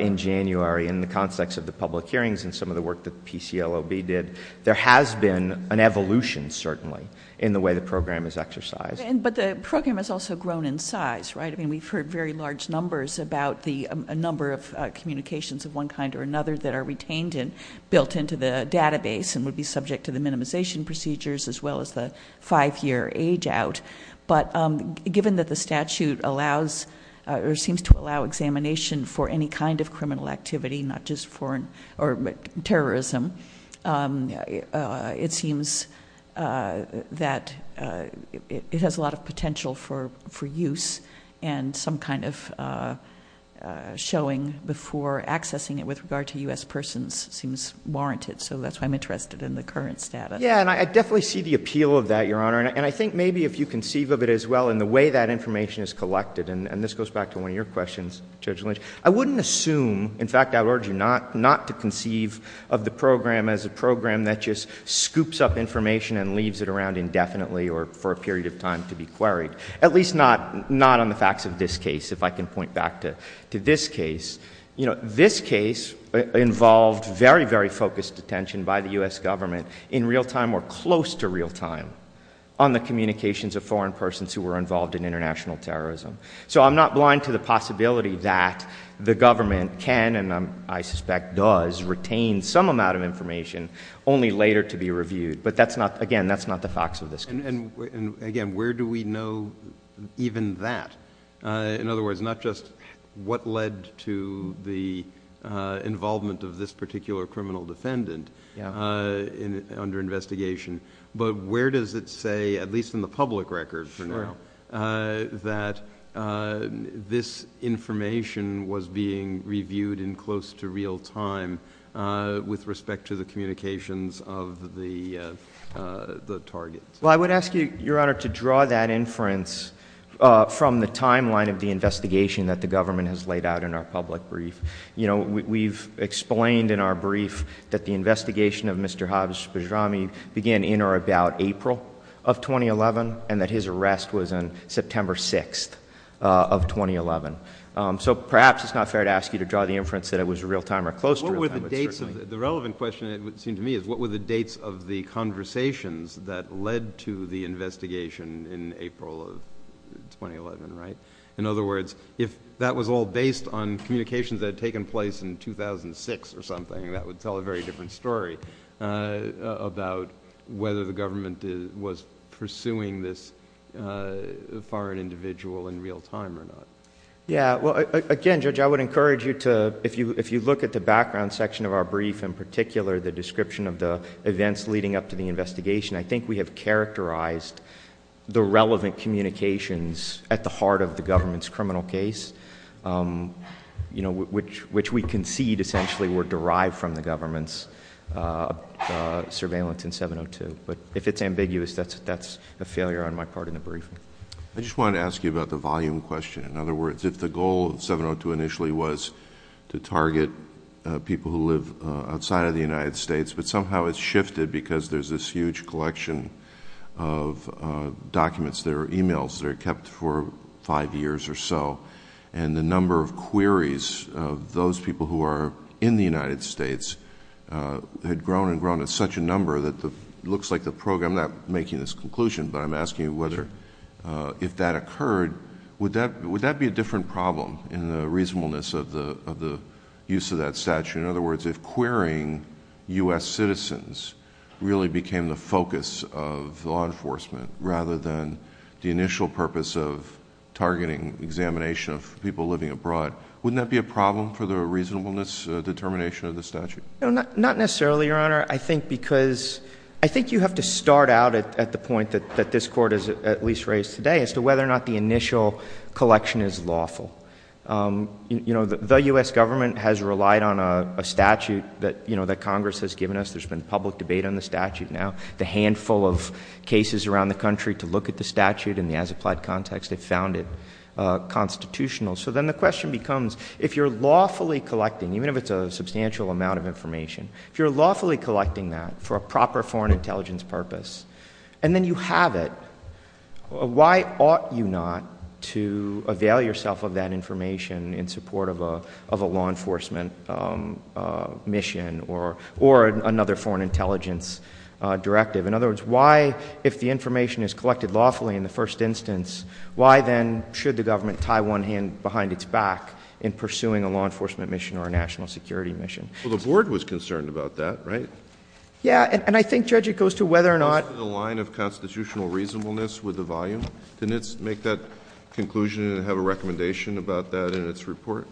in January in the context of the public hearings and some of the work that PCLOB did. There has been an evolution, certainly, in the way the program is exercised. But the program has also grown in size, right? I mean, we've heard very large numbers about the number of communications of one kind or another that are retained and built into the database and would be subject to the minimization procedures as well as the five-year age out. But given that the statute allows or seems to allow examination for any kind of criminal activity, not just foreign or terrorism, it seems that it has a lot of potential for use and some kind of showing before accessing it with regard to U.S. persons seems warranted. So that's why I'm interested in the current status. Yeah, and I definitely see the appeal of that, Your Honor. And I think maybe if you conceive of it as well in the way that information is collected, and this goes back to one of your questions, Judge Lynch, I wouldn't assume, in fact, I would urge you not to conceive of the program as a program that just scoops up information and leaves it around indefinitely or for a period of time to be queried, at least not on the facts of this case, if I can point back to this case. You know, this case involved very, very focused attention by the U.S. government in real time or close to real time on the communications of foreign persons who were involved in international terrorism. So I'm not blind to the possibility that the government can, and I suspect does, retain some amount of information only later to be reviewed. But, again, that's not the facts of this case. And, again, where do we know even that? In other words, not just what led to the involvement of this particular criminal defendant, under investigation, but where does it say, at least in the public record for now, that this information was being reviewed in close to real time with respect to the communications of the target? Well, I would ask you, Your Honor, to draw that inference from the timeline of the investigation that the government has laid out in our public brief. You know, we've explained in our brief that the investigation of Mr. Haji Bajrami began in or about April of 2011, and that his arrest was on September 6th of 2011. So perhaps it's not fair to ask you to draw the inference that it was real time or close to real time. The relevant question, it seems to me, is what were the dates of the conversations that led to the investigation in April of 2011, right? In other words, if that was all based on communications that had taken place in 2006 or something, that would tell a very different story about whether the government was pursuing this foreign individual in real time or not. Yeah, well, again, Judge, I would encourage you to, if you look at the background section of our brief, in particular the description of the events leading up to the investigation, I think we have characterized the relevant communications at the heart of the government's criminal case, which we concede essentially were derived from the government's surveillance in 702. But if it's ambiguous, that's a failure on my part in the briefing. I just wanted to ask you about the volume question. In other words, if the goal of 702 initially was to target people who live outside of the United States, but somehow it's shifted because there's this huge collection of documents that are e-mails that are kept for five years or so, and the number of queries of those people who are in the United States had grown and grown to such a number that it looks like the program, I'm not making this conclusion, but I'm asking whether if that occurred, would that be a different problem in the reasonableness of the use of that statute? In other words, if querying U.S. citizens really became the focus of law enforcement rather than the initial purpose of targeting examination of people living abroad, wouldn't that be a problem for the reasonableness determination of the statute? Not necessarily, Your Honor. I think you have to start out at the point that this Court has at least raised today as to whether or not the initial collection is lawful. The U.S. government has relied on a statute that Congress has given us. There's been public debate on the statute now. The handful of cases around the country to look at the statute in the as-applied context have found it constitutional. So then the question becomes, if you're lawfully collecting, even if it's a substantial amount of information, if you're lawfully collecting that for a proper foreign intelligence purpose, and then you have it, why ought you not to avail yourself of that information in support of a law enforcement mission or another foreign intelligence directive? In other words, why, if the information is collected lawfully in the first instance, why then should the government tie one hand behind its back in pursuing a law enforcement mission or a national security mission? Well, the Board was concerned about that, right? Yeah, and I think, Judge, it goes to whether or not— The line of constitutional reasonableness with the volume. Didn't it make that conclusion and have a recommendation about that in its report?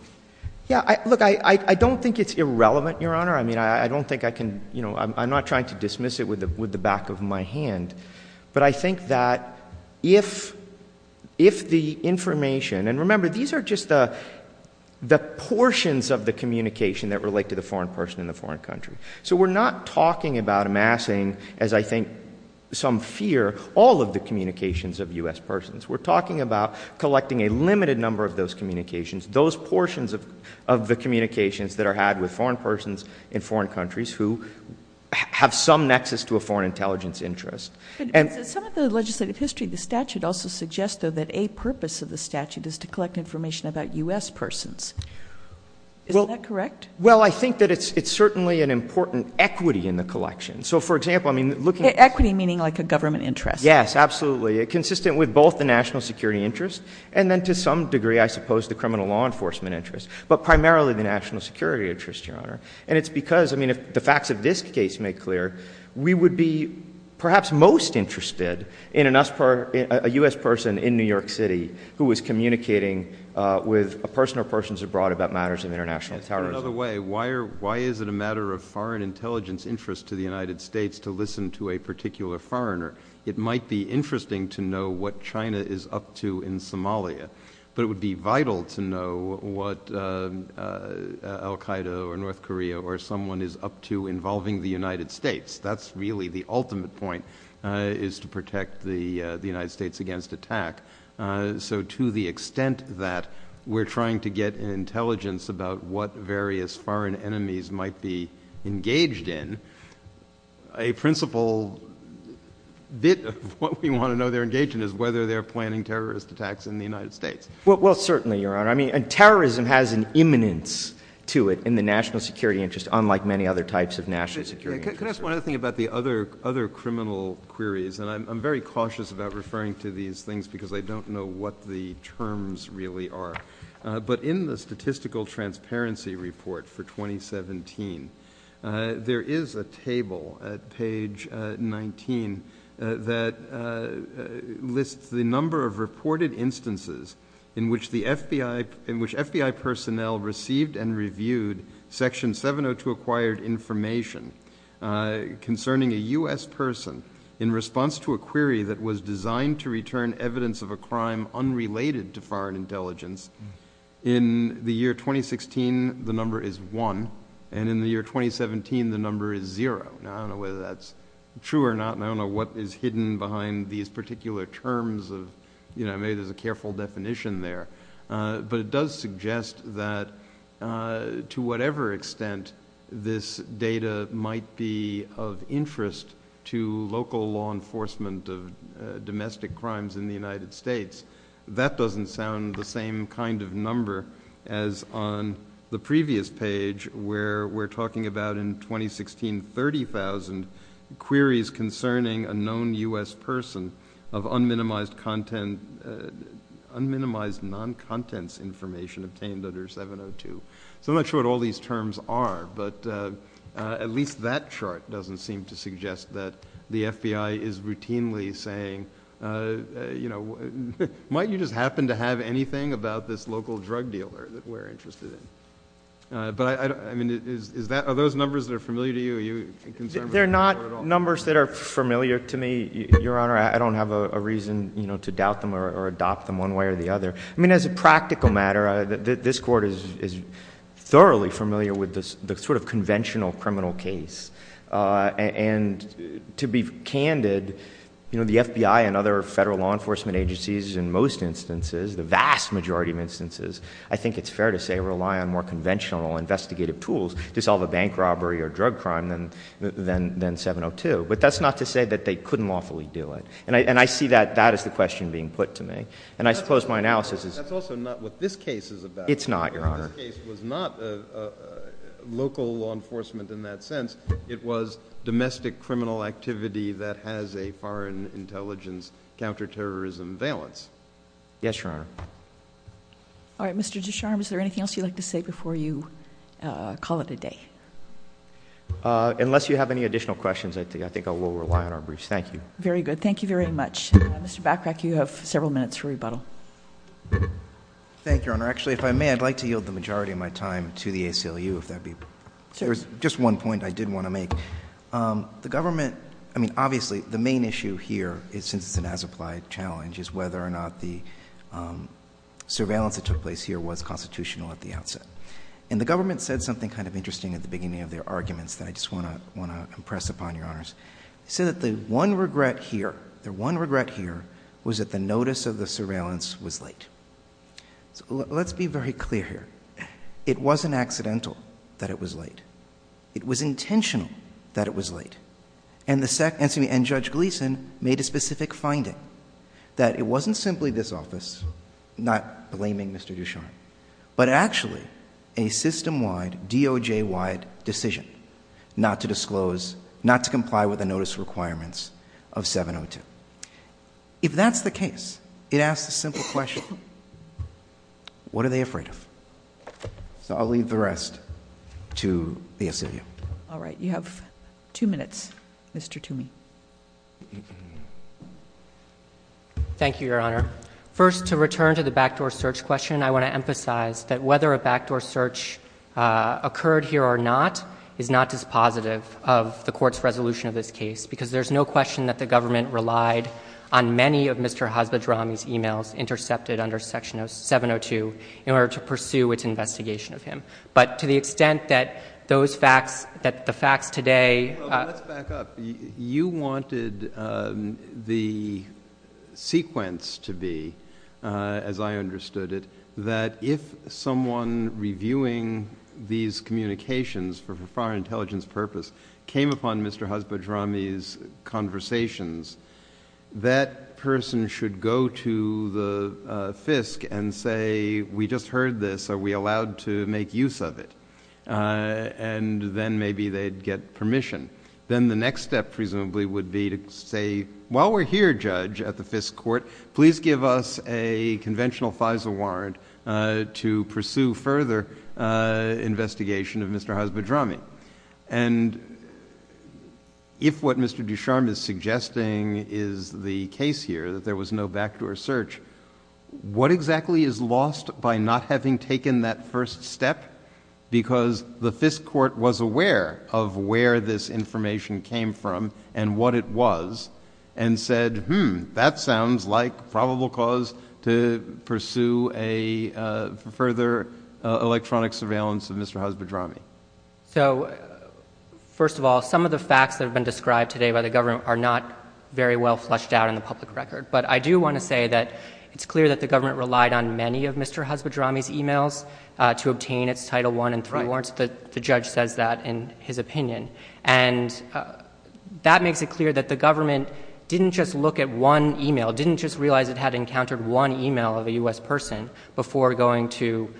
Yeah, look, I don't think it's irrelevant, Your Honor. I mean, I don't think I can—you know, I'm not trying to dismiss it with the back of my hand. But I think that if the information— and remember, these are just the portions of the communication that relate to the foreign person in the foreign country. So we're not talking about amassing, as I think some fear, all of the communications of U.S. persons. We're talking about collecting a limited number of those communications, those portions of the communications that are had with foreign persons in foreign countries who have some nexus to a foreign intelligence interest. Some of the legislative history of the statute also suggests, though, that a purpose of the statute is to collect information about U.S. persons. Is that correct? Well, I think that it's certainly an important equity in the collection. So, for example, I mean, looking at— Equity meaning like a government interest. Yes, absolutely, consistent with both the national security interest and then to some degree, I suppose, the criminal law enforcement interest, but primarily the national security interest, Your Honor. And it's because, I mean, if the facts of this case make clear, we would be perhaps most interested in a U.S. person in New York City who is communicating with a person or persons abroad about matters of international terrorism. In another way, why is it a matter of foreign intelligence interest to the United States to listen to a particular foreigner? It might be interesting to know what China is up to in Somalia, but it would be vital to know what al-Qaeda or North Korea or someone is up to involving the United States. That's really the ultimate point is to protect the United States against attack. So to the extent that we're trying to get intelligence about what various foreign enemies might be engaged in, a principal bit of what we want to know they're engaged in is whether they're planning terrorist attacks in the United States. Well, certainly, Your Honor. I mean, terrorism has an imminence to it in the national security interest unlike many other types of national security interest. Can I ask one other thing about the other criminal queries? And I'm very cautious about referring to these things because I don't know what the terms really are. But in the Statistical Transparency Report for 2017, there is a table at page 19 that lists the number of reported instances in which FBI personnel received and reviewed Section 702 acquired information concerning a U.S. person in response to a query that was designed to return evidence of a crime unrelated to foreign intelligence. In the year 2016, the number is one. And in the year 2017, the number is zero. I don't know whether that's true or not, and I don't know what is hidden behind these particular terms. Maybe there's a careful definition there. But it does suggest that to whatever extent this data might be of interest to local law enforcement of domestic crimes in the United States, that doesn't sound the same kind of number as on the previous page where we're talking about in 2016 30,000 queries concerning a known U.S. person of unminimized non-contents information obtained under 702. So I'm not sure what all these terms are, but at least that chart doesn't seem to suggest that the FBI is routinely saying, you know, might you just happen to have anything about this local drug dealer that we're interested in? But, I mean, are those numbers that are familiar to you? They're not numbers that are familiar to me, Your Honor. I don't have a reason, you know, to doubt them or adopt them one way or the other. I mean, as a practical matter, this Court is thoroughly familiar with the sort of conventional criminal case. And to be candid, you know, the FBI and other federal law enforcement agencies, in most instances, the vast majority of instances, I think it's fair to say rely on more conventional investigative tools to solve a bank robbery or drug crime than 702. But that's not to say that they couldn't lawfully do it. And I see that as the question being put to me. And I suppose my analysis is— That's also not what this case is about. It's not, Your Honor. This case was not local law enforcement in that sense. It was domestic criminal activity that has a foreign intelligence counterterrorism valence. Yes, Your Honor. All right. Mr. Descharnes, is there anything else you'd like to say before you call it a day? Unless you have any additional questions, I think I will rely on our briefs. Thank you. Very good. Thank you very much. Mr. Backrack, you have several minutes for rebuttal. Thank you, Your Honor. Actually, if I may, I'd like to yield the majority of my time to the ACLU, if that would be— Sure. There's just one point I did want to make. The government—I mean, obviously, the main issue here is an as-applied challenge, which is whether or not the surveillance that took place here was constitutional at the outset. And the government said something kind of interesting at the beginning of their arguments that I just want to impress upon Your Honors. They said that the one regret here—the one regret here was that the notice of the surveillance was late. Let's be very clear here. It wasn't accidental that it was late. It was intentional that it was late. And Judge Gleeson made a specific finding, that it wasn't simply this office not blaming Mr. Duchene, but actually a system-wide, DOJ-wide decision not to disclose— not to comply with the notice requirements of 702. If that's the case, it asks a simple question. What are they afraid of? So I'll leave the rest to the ACLU. All right. You have two minutes, Mr. Toomey. Thank you, Your Honor. First, to return to the backdoor search question, I want to emphasize that whether a backdoor search occurred here or not is not dispositive of the Court's resolution of this case because there's no question that the government relied on many of Mr. Hazlodrom's emails intercepted under Section 702 in order to pursue its investigation of him. But to the extent that the fact today— Let's back up. You wanted the sequence to be, as I understood it, that if someone reviewing these communications for a foreign intelligence purpose came upon Mr. Hazlodrom's conversations, that person should go to the FISC and say, We just heard this. Are we allowed to make use of it? And then maybe they'd get permission. Then the next step presumably would be to say, While we're here, Judge, at the FISC Court, please give us a conventional FISA warrant to pursue further investigation of Mr. Hazlodrom. And if what Mr. Ducharme is suggesting is the case here, that there was no backdoor search, what exactly is lost by not having taken that first step? Because the FISC Court was aware of where this information came from and what it was and said, Hmm, that sounds like probable cause to pursue a further electronic surveillance of Mr. Hazlodrom. So, first of all, some of the facts that have been described today by the government are not very well fleshed out in the public record. But I do want to say that it's clear that the government relied on many of Mr. Hazlodrom's e-mails to obtain its Title I and III warrants. The judge says that in his opinion. And that makes it clear that the government didn't just look at one e-mail, didn't just realize it had encountered one e-mail of a U.S. person before going to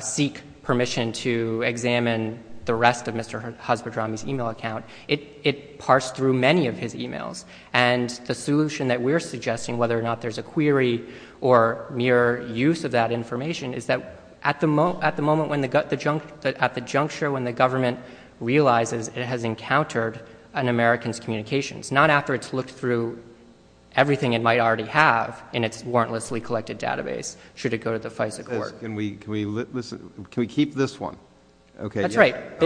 seek permission to examine the rest of Mr. Hazlodrom's e-mail account. It parsed through many of his e-mails. And the solution that we're suggesting, whether or not there's a query or mere use of that information, is that at the moment when the juncture when the government realizes it has encountered an American's communications, not after it's looked through everything it might already have in its warrantlessly collected database should it go to the FISC Court. Can we keep this one? That's right.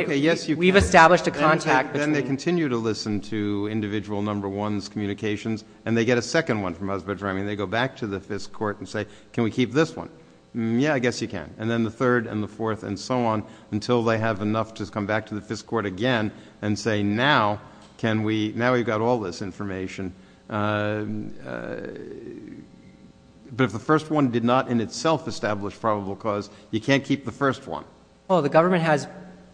We've established a contact. And then they continue to listen to individual number one's communications, and they get a second one from Hazlodrom, and they go back to the FISC Court and say, can we keep this one? Yeah, I guess you can. And then the third and the fourth and so on until they have enough to come back to the FISC Court again and say, now we've got all this information. But if the first one did not in itself establish probable cause, you can't keep the first one. Well, the government has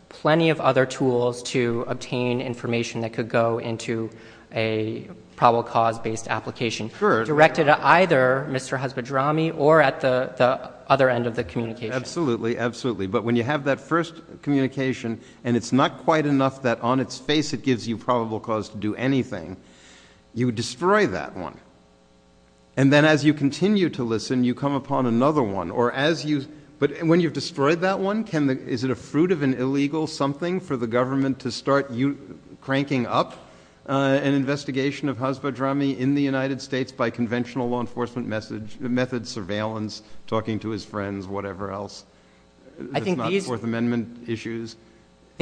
plenty of other tools to obtain information that could go into a probable cause-based application directed at either Mr. Hazlodrom or at the other end of the communication. Absolutely, absolutely. But when you have that first communication, and it's not quite enough that on its face it gives you probable cause to do anything, you destroy that one. And then as you continue to listen, you come upon another one. But when you've destroyed that one, is it a fruit of an illegal something for the government to start cranking up an investigation of Hazlodrom in the United States by conventional law enforcement methods, surveillance, talking to his friends, whatever else? I think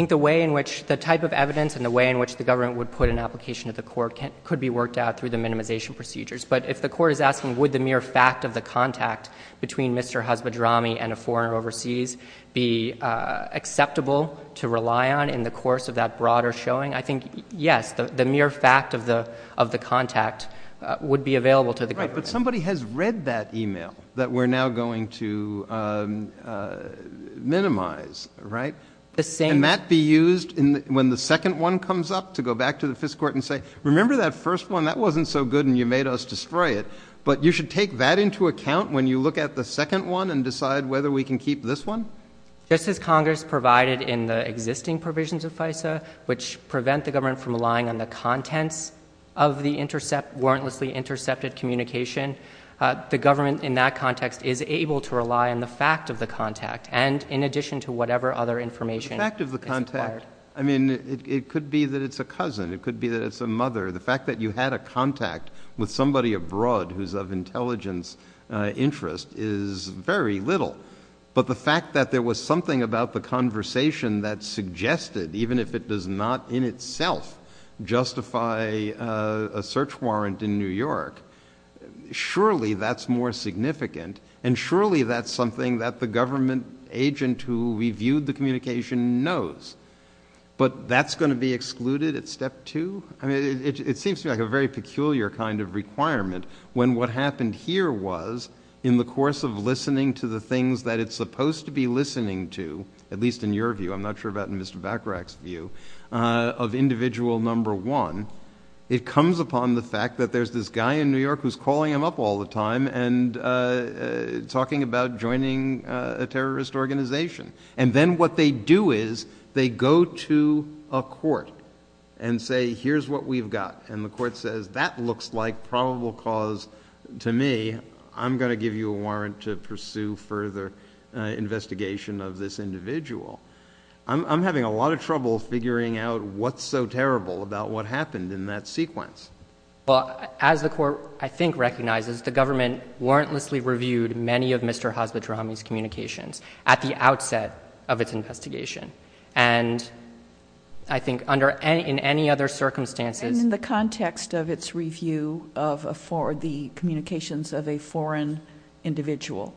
the way in which the type of evidence and the way in which the government would put an application to the court could be worked out through the minimization procedures. But if the court is asking, would the mere fact of the contact between Mr. Hazlodrom and a foreigner overseas be acceptable to rely on in the course of that broader showing? I think, yes, the mere fact of the contact would be available to the government. Right, but somebody has read that email that we're now going to minimize, right? And that be used when the second one comes up to go back to the Fifth Court and say, remember that first one? That wasn't so good and you made us destroy it. But you should take that into account when you look at the second one and decide whether we can keep this one? Just as Congress provided in the existing provisions of FISA, which prevent the government from relying on the contents of the intercept, warrantlessly intercepted communication, the government in that context is able to rely on the fact of the contact and in addition to whatever other information is required. The fact of the contact, I mean, it could be that it's a cousin. It could be that it's a mother. The fact that you had a contact with somebody abroad who's of intelligence interest is very little. But the fact that there was something about the conversation that suggested, even if it does not in itself justify a search warrant in New York, surely that's more significant and surely that's something that the government agent who reviewed the communication knows. But that's going to be excluded at step two? I mean, it seems to me like a very peculiar kind of requirement when what happened here was in the course of listening to the things that it's supposed to be listening to, at least in your view, I'm not sure about Mr. Bacharach's view, of individual number one, it comes upon the fact that there's this guy in New York who's calling him up all the time and talking about joining a terrorist organization. And then what they do is they go to a court and say, here's what we've got. And the court says, that looks like probable cause to me. I'm going to give you a warrant to pursue further investigation of this individual. I'm having a lot of trouble figuring out what's so terrible about what happened in that sequence. Well, as the court, I think, recognizes, the government warrantlessly reviewed many of Mr. Hazlitt-Rahami's communications at the outset of its investigation. And I think in any other circumstances... And in the context of its review for the communications of a foreign individual.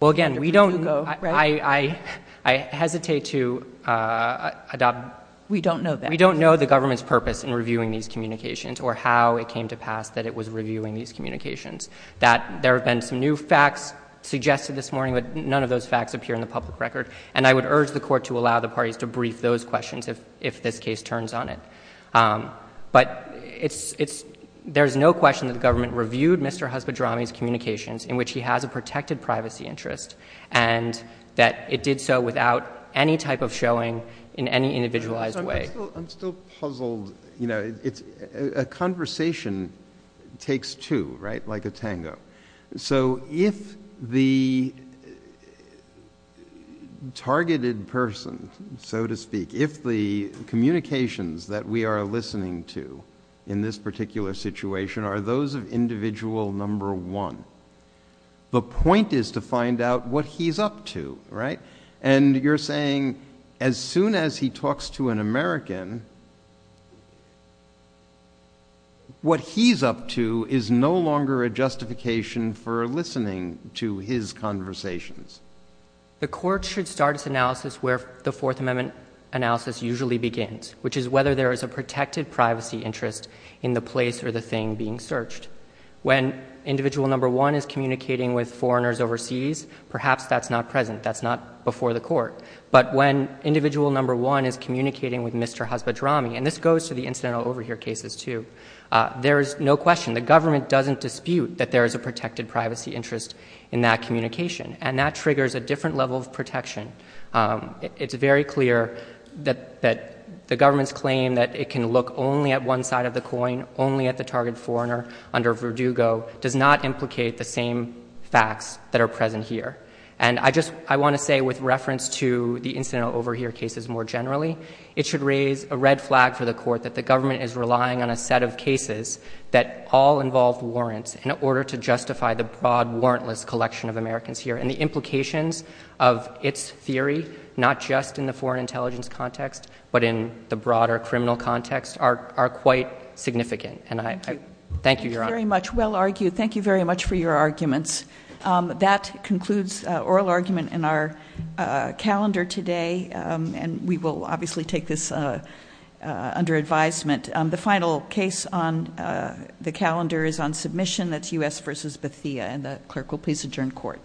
Well, again, we don't... I hesitate to adopt... We don't know that. We don't know the government's purpose in reviewing these communications or how it came to pass that it was reviewing these communications, that there have been some new facts suggested this morning, but none of those facts appear in the public record. And I would urge the court to allow the parties to brief those questions if this case turns on it. But there's no question that the government reviewed Mr. Hazlitt-Rahami's communications in which he has a protected privacy interest and that it did so without any type of showing in any individualized way. I'm still puzzled. You know, a conversation takes two, right? Like a tango. So if the targeted person, so to speak, if the communications that we are listening to in this particular situation are those of individual number one, the point is to find out what he's up to, right? And you're saying as soon as he talks to an American, what he's up to is no longer a justification for listening to his conversations. The court should start its analysis where the Fourth Amendment analysis usually begins, which is whether there is a protected privacy interest in the place or the thing being searched. When individual number one is communicating with foreigners overseas, perhaps that's not present, that's not before the court. And this goes to the incidental overhear cases, too. There is no question the government doesn't dispute that there is a protected privacy interest in that communication, and that triggers a different level of protection. It's very clear that the government's claim that it can look only at one side of the coin, only at the target foreigner under Verdugo, does not implicate the same facts that are present here. And I want to say with reference to the incidental overhear cases more generally, it should raise a red flag for the court that the government is relying on a set of cases that all involve warrants in order to justify the broad warrantless collection of Americans here. And the implications of its theory, not just in the foreign intelligence context, but in the broader criminal context, are quite significant. And I thank you, Your Honor. Very much well argued. Thank you very much for your arguments. That concludes oral argument in our calendar today. And we will obviously take this under advisement. The final case on the calendar is on submission. That's U.S. v. Bathia, and the clerk will please adjourn court.